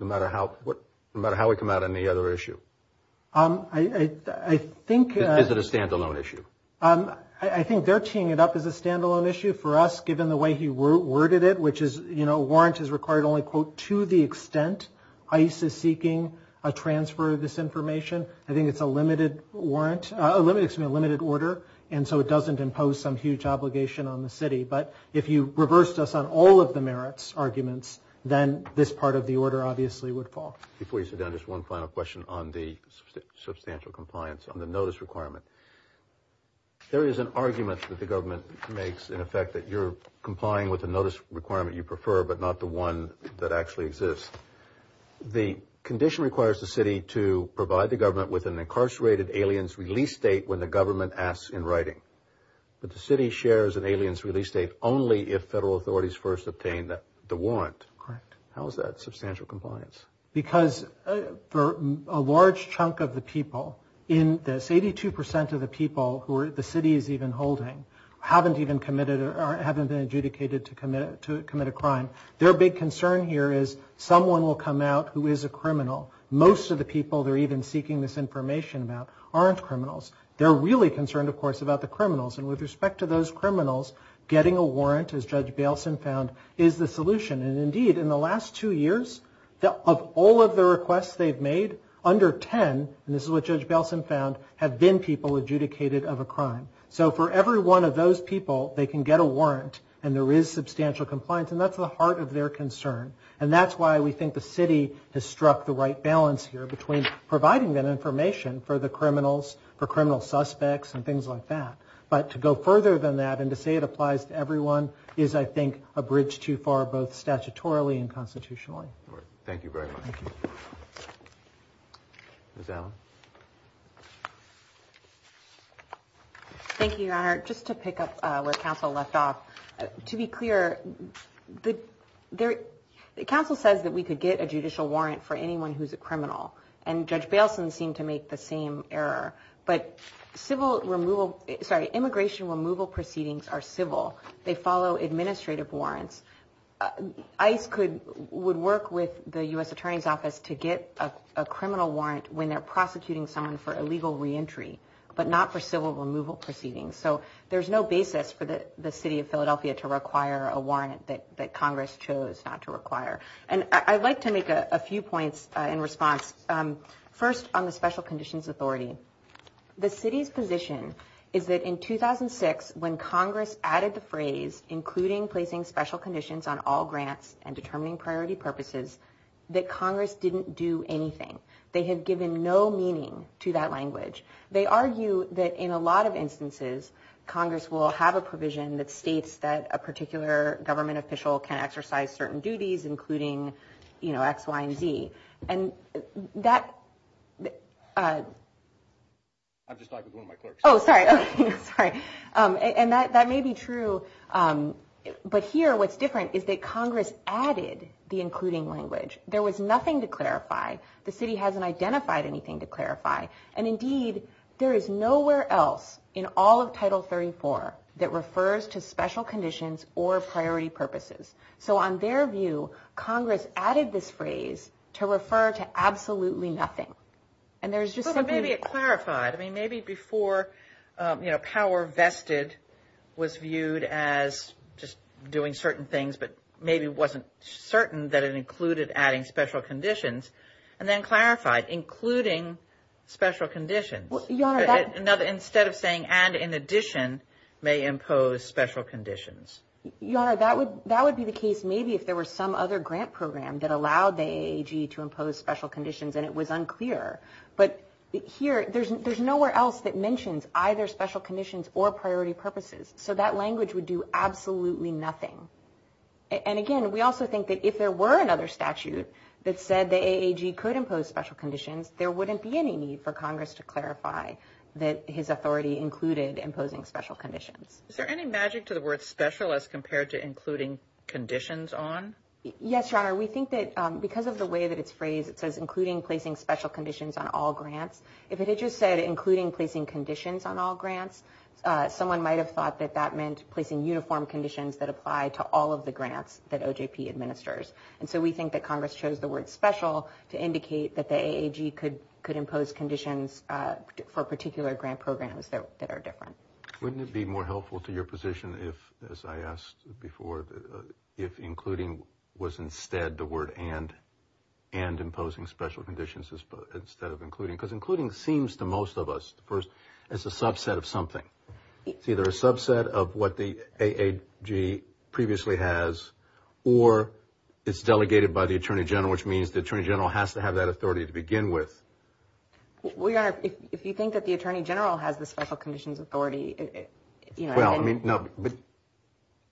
no matter how, no matter how we come out on the other issue? I think... Is it a standalone issue? I think they're teeing it up as a standalone issue for us, given the way he worded it, which is, you know, the warrant is required only, quote, to the extent ICE is seeking a transfer of this information. I think it's a limited warrant, a limited order, and so it doesn't impose some huge obligation on the city. But if you reversed us on all of the merits arguments, then this part of the order obviously would fall. Before you sit down, just one final question on the substantial compliance on the notice requirement. There is an argument that the government makes, in effect, that you're complying with the notice requirement you prefer but not the one that actually exists. The condition requires the city to provide the government with an incarcerated alien's release date when the government asks in writing. But the city shares an alien's release date only if federal authorities first obtain the warrant. How is that substantial compliance? Because for a large chunk of the people in this, who haven't been adjudicated to commit a crime, their big concern here is someone will come out who is a criminal. Most of the people they're even seeking this information about aren't criminals. They're really concerned, of course, about the criminals. And with respect to those criminals, getting a warrant, as Judge Bailson found, is the solution. And indeed, in the last two years, of all of the requests they've made, under 10, and this is what Judge Bailson found, have been people adjudicated of a crime. So for every one of those people, they can get a warrant and there is substantial compliance, and that's the heart of their concern. And that's why we think the city has struck the right balance here between providing that information for the criminals, for criminal suspects, and things like that. But to go further than that and to say it applies to everyone is, I think, a bridge too far, both statutorily and constitutionally. Thank you very much. Ms. Allen. Thank you, Your Honor. Just to pick up where counsel left off, to be clear, counsel says that we could get a judicial warrant for anyone who's a criminal, and Judge Bailson seemed to make the same error. But immigration removal proceedings are civil. They follow administrative warrants. ICE would work with the U.S. Attorney's Office to get a criminal warrant when they're prosecuting someone for illegal reentry, but not for civil removal proceedings. So there's no basis for the city of Philadelphia to require a warrant that Congress chose not to require. And I'd like to make a few points in response. First, on the Special Conditions Authority. The city's position is that in 2006, when Congress added the phrase, including placing special conditions on all grants and determining priority purposes, that Congress didn't do anything. They had given no meaning to that language. They argue that in a lot of instances, Congress will have a provision that states that a particular government official can exercise certain duties, including, you know, X, Y, and Z. And that... I'm just talking to one of my clerks. Oh, sorry. And that may be true, but here what's different is that Congress added the including language. There was nothing to clarify. The city hasn't identified anything to clarify. And indeed, there is nowhere else in all of Title 34 that refers to special conditions or priority purposes. So on their view, Congress added this phrase to refer to absolutely nothing. Well, but maybe it clarified. I mean, maybe before, you know, power vested was viewed as just doing certain things, but maybe wasn't certain that it included adding special conditions, and then clarified, including special conditions. Instead of saying, and in addition, may impose special conditions. Your Honor, that would be the case maybe if there were some other grant program that allowed the AAG to impose special conditions, and it was unclear. But here, there's nowhere else that mentions either special conditions or priority purposes. So that language would do absolutely nothing. And again, we also think that if there were another statute that said the AAG could impose special conditions, there wouldn't be any need for Congress to clarify that his authority included imposing special conditions. Is there any magic to the word special as compared to including conditions on? Yes, Your Honor. We think that because of the way that it's phrased, it says including placing special conditions on all grants. If it had just said including placing conditions on all grants, someone might have thought that that meant placing uniform conditions that apply to all of the grants that OJP administers. And so we think that Congress chose the word special to indicate that the AAG could impose conditions for particular grant programs that are different. Wouldn't it be more helpful to your position if, as I asked before, if including was instead the word and, and imposing special conditions instead of including? Because including seems to most of us, it's a subset of something. It's either a subset of what the AAG previously has or it's delegated by the Attorney General, which means the Attorney General has to have that authority to begin with. Well, Your Honor, if you think that the Attorney General has the special conditions authority, you know... Well, I mean, no, but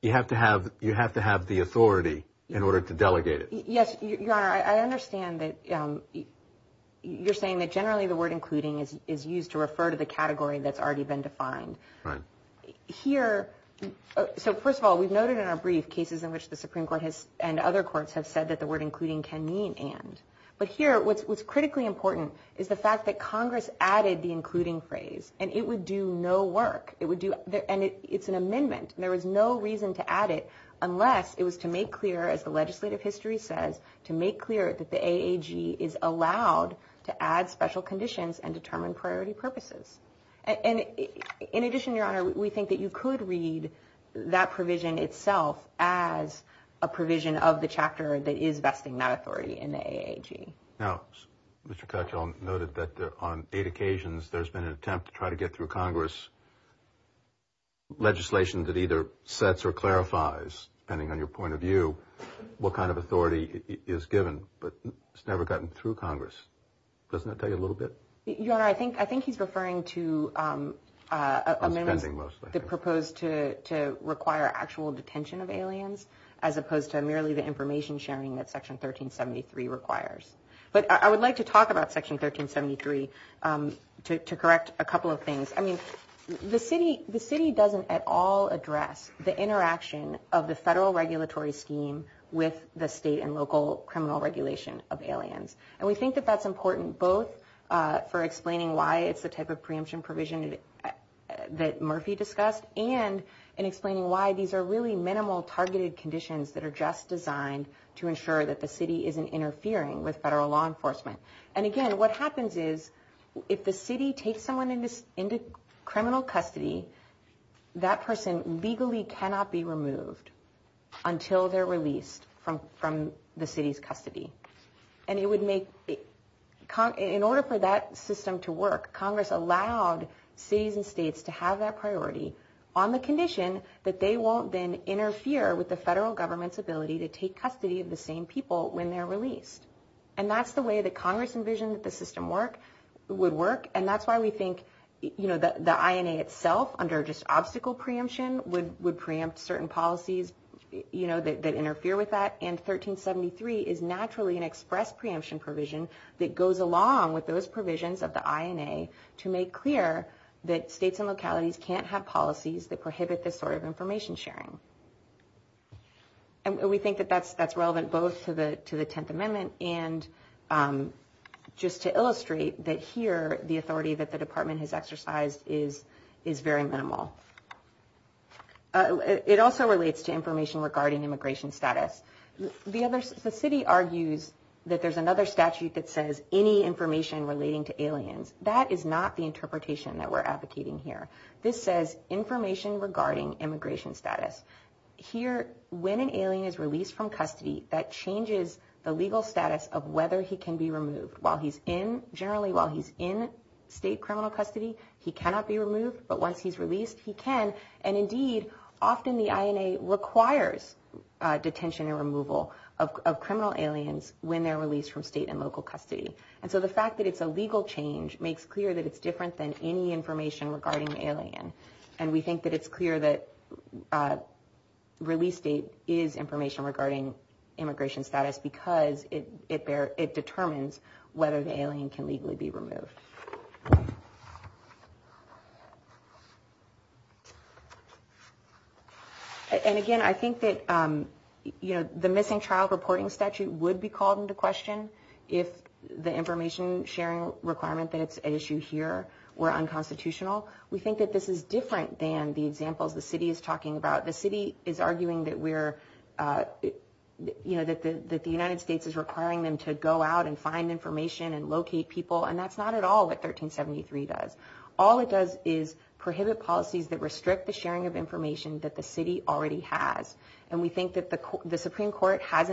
you have to have, you have to have the authority in order to delegate it. Yes, Your Honor, I understand that you're saying that generally the word including is used to refer to the category that's already been defined. Right. Here, so first of all, we've noted in our brief the cases in which the Supreme Court and other courts have said that the word including can mean and. But here, what's critically important is the fact that Congress added the including phrase and it would do no work. It's an amendment. There was no reason to add it unless it was to make clear, as the legislative history says, to make clear that the AAG is allowed to add special conditions and determine priority purposes. In addition, Your Honor, we think that you could read that provision itself as a provision of the chapter that is vesting that authority in the AAG. Now, Mr. Cutchell noted that on eight occasions there's been an attempt to try to get through Congress legislation that either sets or clarifies, depending on your point of view, what kind of authority is given, but it's never gotten through Congress. Doesn't that tell you a little bit? Your Honor, I think he's referring to amendments proposed to require actual detention of aliens as opposed to merely the information sharing that Section 1373 requires. But I would like to talk about Section 1373 to correct a couple of things. I mean, the city doesn't at all address the interaction of the federal regulatory scheme with the state and local criminal regulation of aliens. And we think that that's important both for explaining why it's the type of preemption provision that Murphy discussed and in explaining why these are really minimal targeted conditions that are just designed to ensure that the city isn't interfering with federal law enforcement. And again, what happens is if the city takes someone into criminal custody, that person legally cannot be removed until they're released from the city's custody. And in order for that system to work, Congress allowed cities and states to have that priority on the condition that they won't then interfere with the federal government's ability to take custody of the same people when they're released. And that's the way that Congress envisioned that the system would work. And that's why we think the INA itself, under just obstacle preemption, would preempt certain policies that interfere with that. And 1373 is naturally an express preemption provision that goes along with those provisions of the INA to make clear that states and localities can't have policies that prohibit this sort of information sharing. And we think that that's relevant both to the Tenth Amendment and just to illustrate that here the authority that the Department has exercised is very minimal. It also relates to information regarding immigration status. The city argues that there's another statute that says any information relating to aliens. That is not the interpretation that we're advocating here. This says information regarding immigration status. Here, when an alien is released from custody, that changes the legal status of whether he can be removed. Generally, while he's in state criminal custody, he cannot be removed. But once he's released, he can. And indeed, often the INA requires detention and removal of criminal aliens when they're released from state and local custody. And so the fact that it's a legal change makes clear that it's different than any information regarding an alien. And we think that it's clear that release date is information regarding immigration status because it determines whether the alien can legally be removed. And again, I think that the missing trial reporting statute would be called into question if the information sharing requirement that's at issue here were unconstitutional. We think that this is different than the examples the city is talking about. The city is arguing that the United States is requiring them to go out and find information and locate people and that's not at all what 1373 does. All it does is prohibit policies that restrict the sharing of information that the city already has. And we think that the Supreme Court has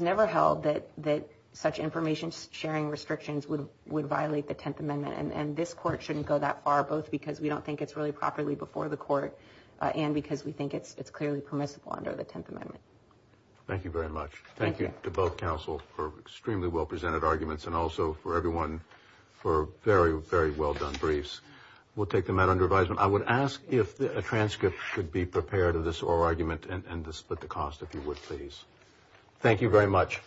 never held that such information sharing restrictions would violate the 10th Amendment. And this court shouldn't go that far, both because we don't think it's really properly before the court and because we think it's clearly permissible under the 10th Amendment. Thank you very much. We'll take the matter under advisement. I would ask if a transcript could be prepared of this oral argument and to split the cost if you would, please. Thank you very much.